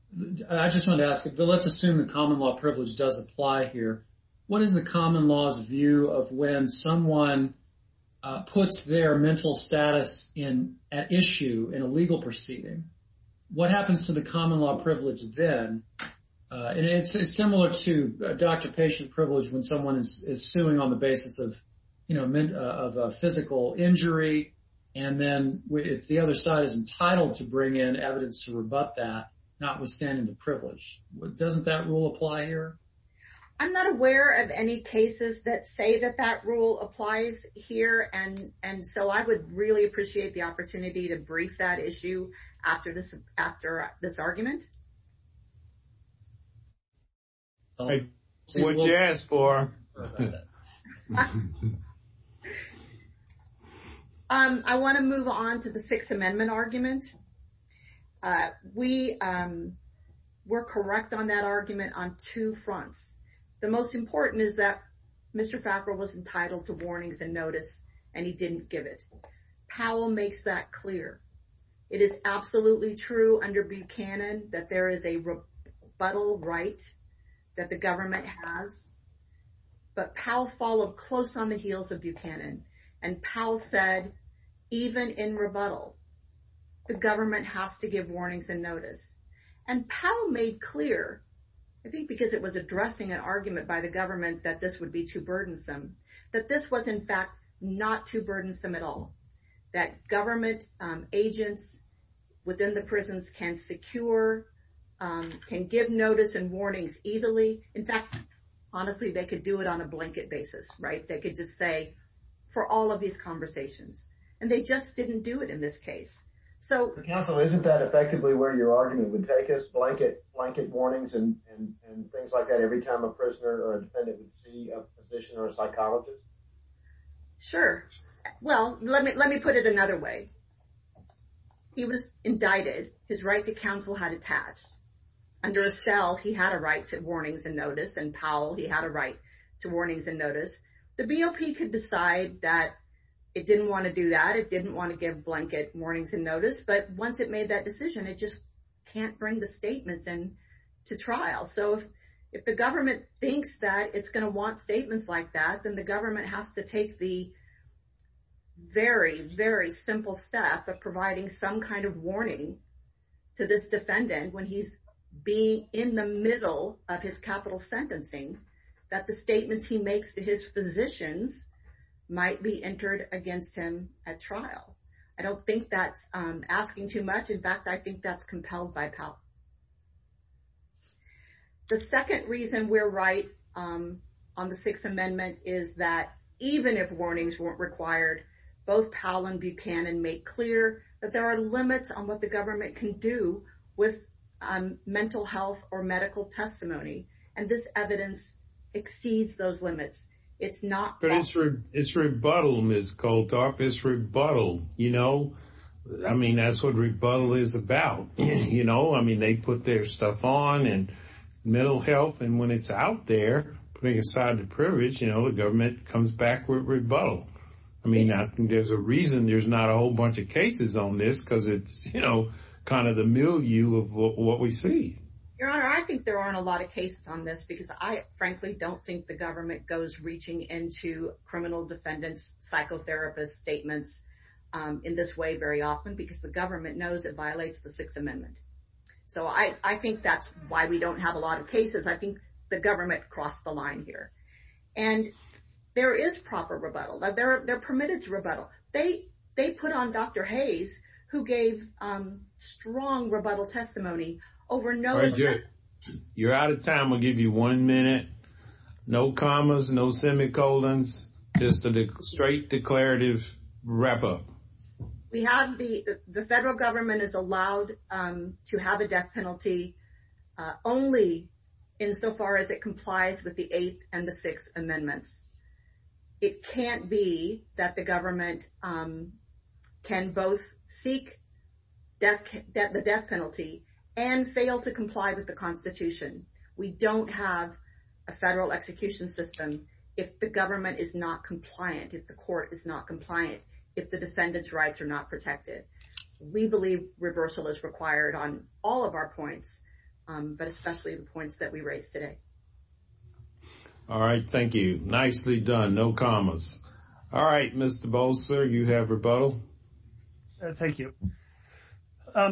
I just want to ask, let's assume the common law privilege does apply here. What is the common laws view of when someone puts their mental status in at issue in a legal proceeding? What happens to the common law privilege then? And it's similar to a doctor patient privilege when someone is suing on the basis of, you know, if the other side is entitled to bring in evidence to rebut that not withstanding the privilege, what doesn't that rule apply here? I'm not aware of any cases that say that that rule applies here. And, and so I would really appreciate the opportunity to brief that issue after this, after this argument. I want to move on to the sixth amendment argument. We were correct on that argument on two fronts. The most important is that Mr. Fackler was entitled to warnings and notice, and he didn't give it. Powell makes that clear. withstanding the privilege. There is a rebuttal right that the government has, but Powell followed close on the heels of Buchanan and Powell said, even in rebuttal, the government has to give warnings and notice. And Powell made clear, I think because it was addressing an argument by the government that this would be too burdensome, that this was in fact, not too burdensome at all. That government agents within the prisons can secure can give notice and warnings easily. In fact, honestly, they could do it on a blanket basis, right? They could just say for all of these conversations and they just didn't do it in this case. So isn't that effectively where your argument would take us? Blanket, blanket warnings and things like that. Every time a prisoner or a defendant would see a physician or a psychologist. Sure. Well, let me, let me put it another way. He was indicted. His right to counsel had attached under a cell. He had a right to warnings and notice and Powell, he had a right to warnings and notice the BOP could decide that it didn't want to do that. It didn't want to give blanket warnings and notice, but once it made that decision, it just can't bring the statements and to trial. So if the government thinks that it's going to want statements like that, then the government has to take the very, very simple step of providing some kind of warning to this defendant when he's being in the middle of his capital sentencing, that the statements he makes to his physicians might be entered against him at trial. I don't think that's asking too much. In fact, I think that's compelled by power. The second reason we're right on the sixth amendment is that even if warnings weren't required, both Powell and Buchanan make clear that there are limits on what the government can do with mental health or medical testimony. And this evidence exceeds those limits. It's not. It's rebuttal Ms. Koltak, it's rebuttal. You know, I mean, that's what rebuttal is about. You know, I mean, they put their stuff on and mental health and when it's out there, putting aside the privilege, you know, the government comes back with rebuttal. I mean, there's a reason there's not a whole bunch of cases on this because it's, you know, kind of the milieu of what we see. Your Honor, I think there aren't a lot of cases on this because I frankly don't think the government goes reaching into criminal defendants, psychotherapists, statements in this way very often because the government knows it violates the sixth amendment. So I, I think that's why we don't have a lot of cases. I think the government crossed the line here and there is proper rebuttal that they're permitted to rebuttal. They, they put on Dr. Hayes who gave strong rebuttal testimony over. You're out of time. We'll give you one minute. No commas, no semicolons, just a straight declarative wrap up. We have the, the federal government is allowed to have a death penalty only in so far as it complies with the eighth and the sixth amendments. It can't be that the government can both seek death, the death penalty and fail to comply with the constitution. We don't have a federal execution system. If the government is not compliant, if the court is not compliant, if the defendant's rights are not protected, we believe reversal is required on all of our points. But especially the points that we raised today. All right. Thank you. Nicely done. No commas. All right, Mr. Bolzer, you have rebuttal. Thank you. I'd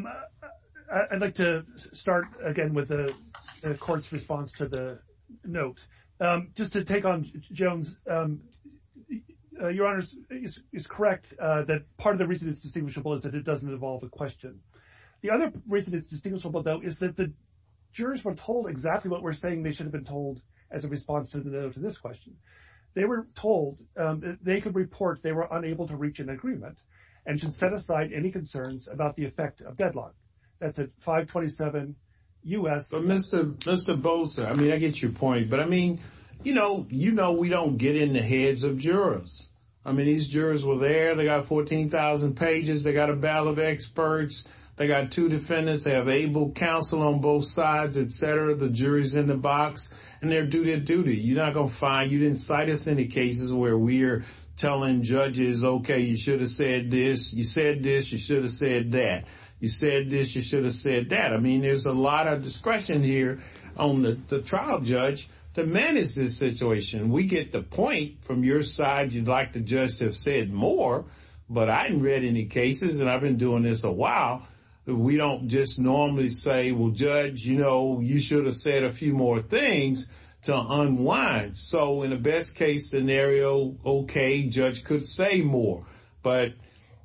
like to start again with the court's response to the notes. Just to take on Jones, your honors is correct. That part of the reason it's distinguishable is that it doesn't involve a question. The other reason it's distinguishable though, is that the jurors were told exactly what we're saying. They should have been told as a response to this question, they were told that they could report. They were unable to reach an agreement and should set aside any concerns about the effect of deadlock. That's a five 27. Mr. Bolzer, I mean, I get your point, but I mean, you know, you know we don't get in the heads of jurors. I mean, these jurors were there. They got 14,000 pages. They got a battle of experts. They got two defendants. They have able counsel on both sides, et cetera. The jury's in the box and they're due their duty. You're not going to find, you didn't cite us any cases where we're telling judges, okay, you should have said this. You said this, you should have said that. I mean, there's a lot of discretion here on the trial judge to manage this situation. We get the point from your side. You'd like the judge to have said more, but I didn't read any cases and I've been doing this a while. We don't just normally say, well, judge, you know, you should have said a few more things to unwind. So in the best case scenario, okay, judge could say more, but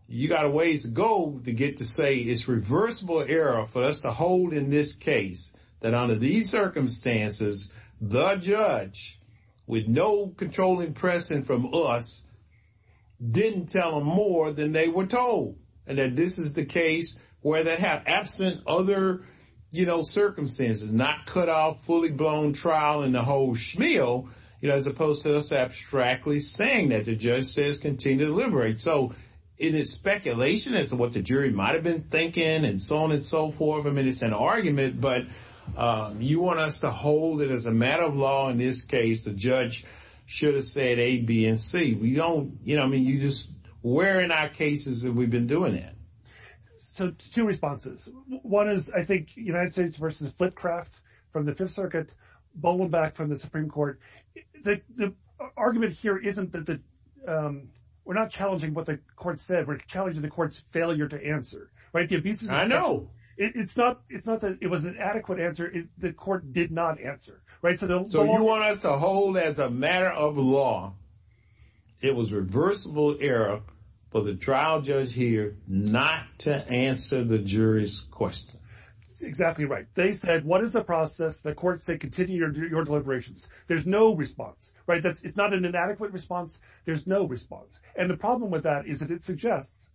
you got a ways to go to get to say it's reversible error for us to hold in this case that under these circumstances, the judge with no controlling precedent from us didn't tell them more than they were told. And then this is the case where they have absent other, you know, circumstances, not cut out fully blown trial in the whole schmeal, you know, as opposed to us abstractly saying that the judge says continue to deliberate so it is speculation as to what the jury might've been thinking and so on and so forth. I mean, it's an argument, but you want us to hold it as a matter of law in this case, the judge should have said A, B, and C. We don't, you know what I mean? You just wearing our cases that we've been doing it. So two responses. One is I think United States versus split craft from the fifth circuit, Bowen back from the Supreme court, the argument here isn't that we're not challenging what the court said. We're challenging the court's failure to answer, right? I know it's not, it's not that it was an adequate answer. The court did not answer. Right. So you want us to hold as a matter of law, it was reversible error for the trial judge here not to answer the jury's question. Exactly right. They said, what is the process? The courts, they continue to do your deliberations. There's no response, right? That's, it's not an inadequate response. There's no response. And the problem with that is that it suggests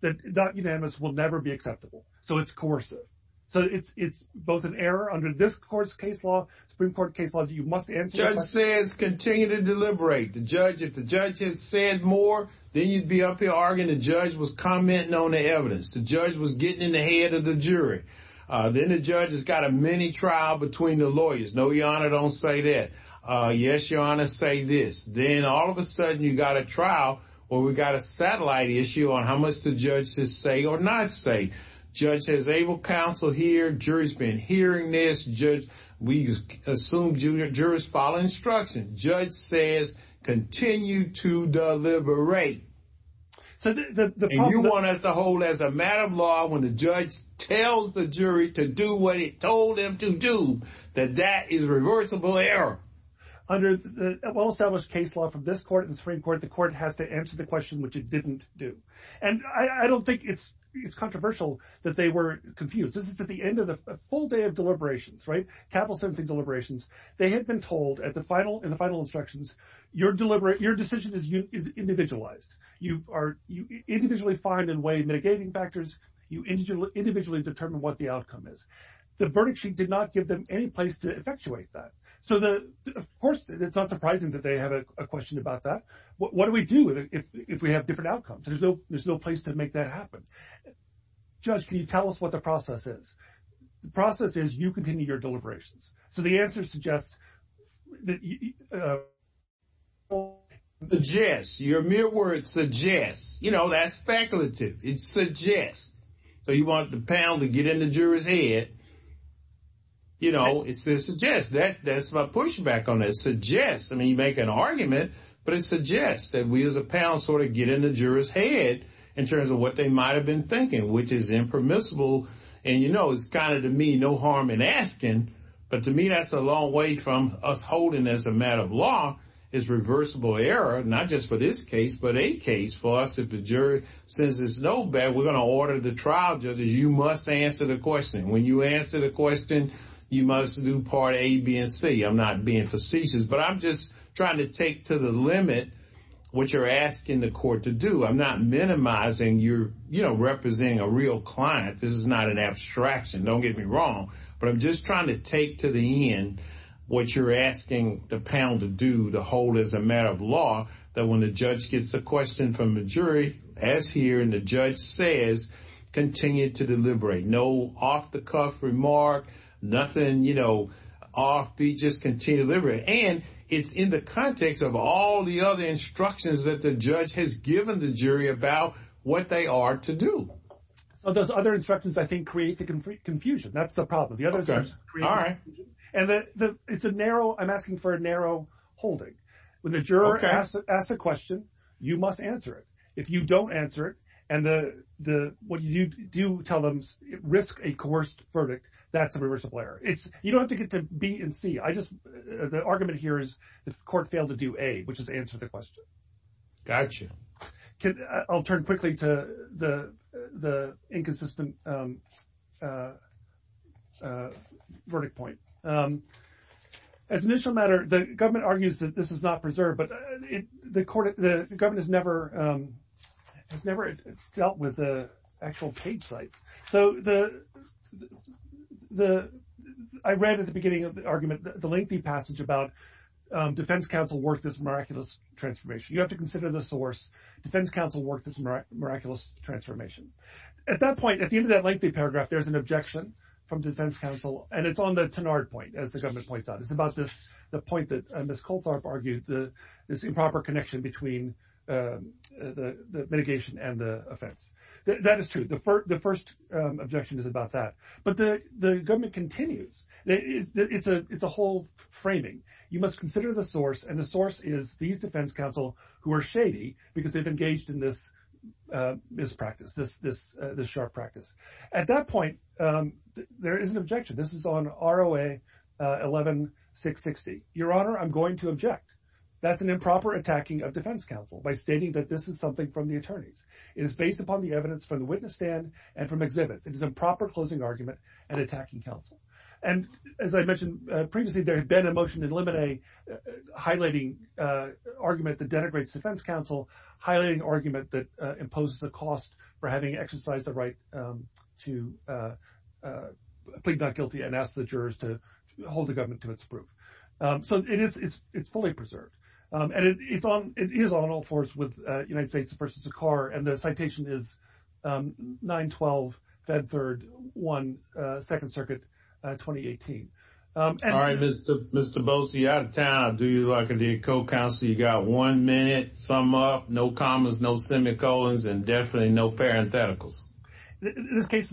that that unanimous will never be acceptable. So it's coercive. So it's, it's both an error under this court's case law Supreme court case laws. You must answer. It says continue to deliberate the judge. If the judge had said more, then you'd be up here arguing. The judge was commenting on the evidence. The judge was getting in the head of the jury. Then the judge has got a mini trial between the lawyers. No, your honor don't say that. Yes, your honor say this. Then all of a sudden you got a trial or we've got a satellite issue on how much the judges say or not say. Judge says they will counsel here. Jury's been hearing this judge. We assume jury's following instruction. Judge says, continue to deliberate. So you want us to hold as a matter of law, when the judge tells the jury to do what he told them to do, that that is reversible error. Under the well-established case law from this court and Supreme court, the court has to answer the question, which it didn't do. And I don't think it's, it's controversial that they were confused. This is at the end of the full day of deliberations, right? Capital sentencing deliberations. They had been told at the final and the final instructions you're deliberate. Your decision is individualized. You individually find and weigh mitigating factors. You individually determine what the outcome is. The verdict sheet did not give them any place to effectuate that. So of course it's not surprising that they had a question about that. What do we do if we have different outcomes? There's no place to make that happen. Judge, can you tell us what the process is? The process is you continue your deliberations. So the answer suggests, suggests your mere words suggest, you know, that's speculative. It suggests. So you want the panel to get in the juror's head. You know, it's, it suggests that that's my pushback on it. It suggests, I mean, you make an argument, but it suggests that we as a panel sort of get in the juror's head in terms of what they might've been thinking, which is impermissible. And, you know, it's kind of to me, no harm in asking, but to me that's a long way from us holding as a matter of law is reversible error, not just for this case, but a case for us. If the jury says it's no bad, we're going to order the trial. You must answer the question. When you answer the question, you must do part A, B, and C. I'm not being facetious, but I'm just trying to take to the limit what you're asking the court to do. I'm not minimizing your, you know, representing a real client. This is not an abstraction. Don't get me wrong, but I'm just trying to take to the end what you're asking the panel to do, to hold as a matter of law, that when the judge gets a question from the jury, as here, and the judge says, continue to deliberate. No off-the-cuff remark, nothing, you know, off. We just continue to deliberate. And it's in the context of all the other instructions that the judge has given the jury about what they are to do. Those other instructions, I think, create the confusion. That's the problem. All right. And it's a narrow, I'm asking for a narrow holding. When the juror asks a question, you must answer it. If you don't answer it, and what you do tell them, risk a coerced verdict, that's a reversible error. You don't have to get to B and C. The argument here is if the court failed to do A, which is answer the question. Gotcha. I'll turn quickly to the inconsistent verdict point. As an initial matter, the government argues that this is not preserved, but the government has never dealt with the actual case site. So I read at the beginning of the argument the lengthy passage about defense counsel worked this miraculous transformation. You have to consider the source. Defense counsel worked this miraculous transformation. At that point, at the end of that lengthy paragraph, there's an objection from defense counsel, and it's on the Tenard point, as the government points out. It's about the point that Ms. Coltharp argued, this improper connection between the mitigation and the offense. That is true. The first objection is about that. But the government continues. It's a whole framing. You must consider the source, and the source is these defense counsel who are shady because they've engaged in this mispractice, this sharp practice. At that point, there is an objection. This is on ROA 11660. Your Honor, I'm going to object. That's an improper attacking of defense counsel by stating that this is something from the attorneys. It is based upon the evidence from the witness stand and from exhibit. It is a proper closing argument and attacking counsel. And as I mentioned previously, there has been a motion to eliminate highlighting argument that denigrates defense counsel, highlighting argument that imposes the cost for having exercised the right to plead not guilty and ask the jurors to hold the government to its proof. So it's fully preserved. And it is on all fours with United States v. Dakar, and the citation is 912, FEDVIRD 1, second circuit, 2018. All right, Mr. Boese, you're out of town. I'll do you like to be a co-counselor. You got one minute, sum up, no commas, no semicolons, and definitely no parentheticals. In this case,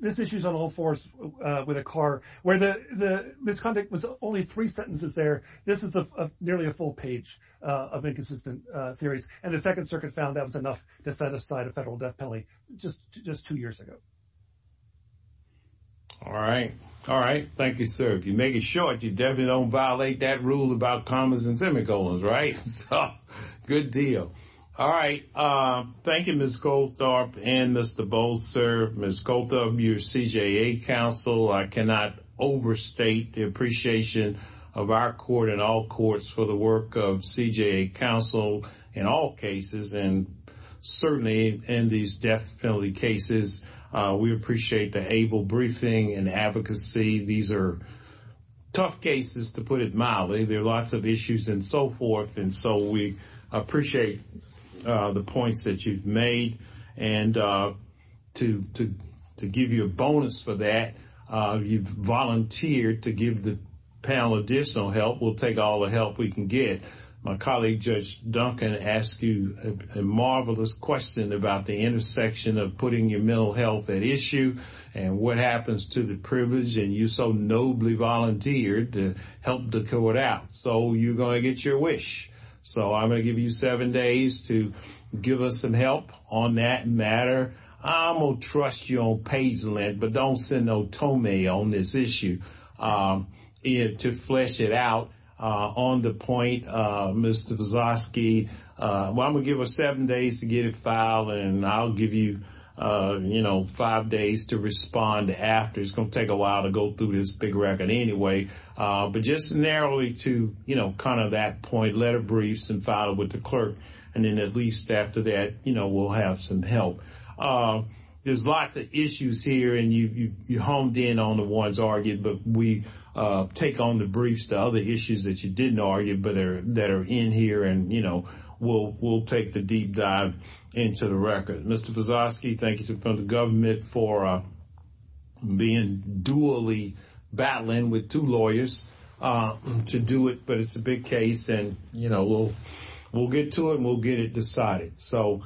this issue is on all fours with Dakar, where the misconduct was only three sentences there. This is nearly a full page of inconsistent theories. And the second circuit found that was enough to satisfy the federal court's decision to remove the penalty just two years ago. All right. All right. Thank you, sir. If you make it short, you definitely don't violate that rule about commas and semicolons, right? Good deal. All right. Thank you, Ms. Goldthorpe and Mr. Boese, Ms. Goldthorpe, your CJA counsel. I cannot overstate the appreciation of our court and all courts for the work of CJA counsel in all cases. And certainly in these death penalty cases, we appreciate the able briefing and advocacy. These are tough cases, to put it mildly. There are lots of issues and so forth, and so we appreciate the points that you've made. And to give you a bonus for that, you've volunteered to give the panel additional help. We'll take all the help we can get. My colleague, Judge Duncan, asked you a marvelous question about the intersection of putting your mental health at issue and what happens to the privilege, and you so nobly volunteered to help the court out. So you're going to get your wish. So I'm going to give you seven days to give us some help on that matter. I'm going to trust you on page length, but don't send no toll mail on this issue to flesh it out on the point of Mr. Zazoski. I'm going to give her seven days to get it filed, and I'll give you five days to respond after. It's going to take a while to go through this big record anyway. But just narrowly to kind of that point, let her brief and file it with the clerk, and then at least after that we'll have some help. There's lots of issues here, and you honed in on the ones argued, but we take on the briefs to other issues that you didn't argue, but that are in here and we'll take the deep dive into the record. Mr. Zazoski, thank you to the government for being duly battling with two lawyers to do it, but it's a big case, and we'll get to it and we'll get it decided. So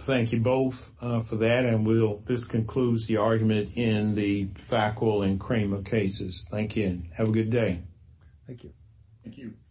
thank you both for that, and this concludes the argument in the Fackle and Kramer cases. Thank you. Have a good day. Thank you. Thank you.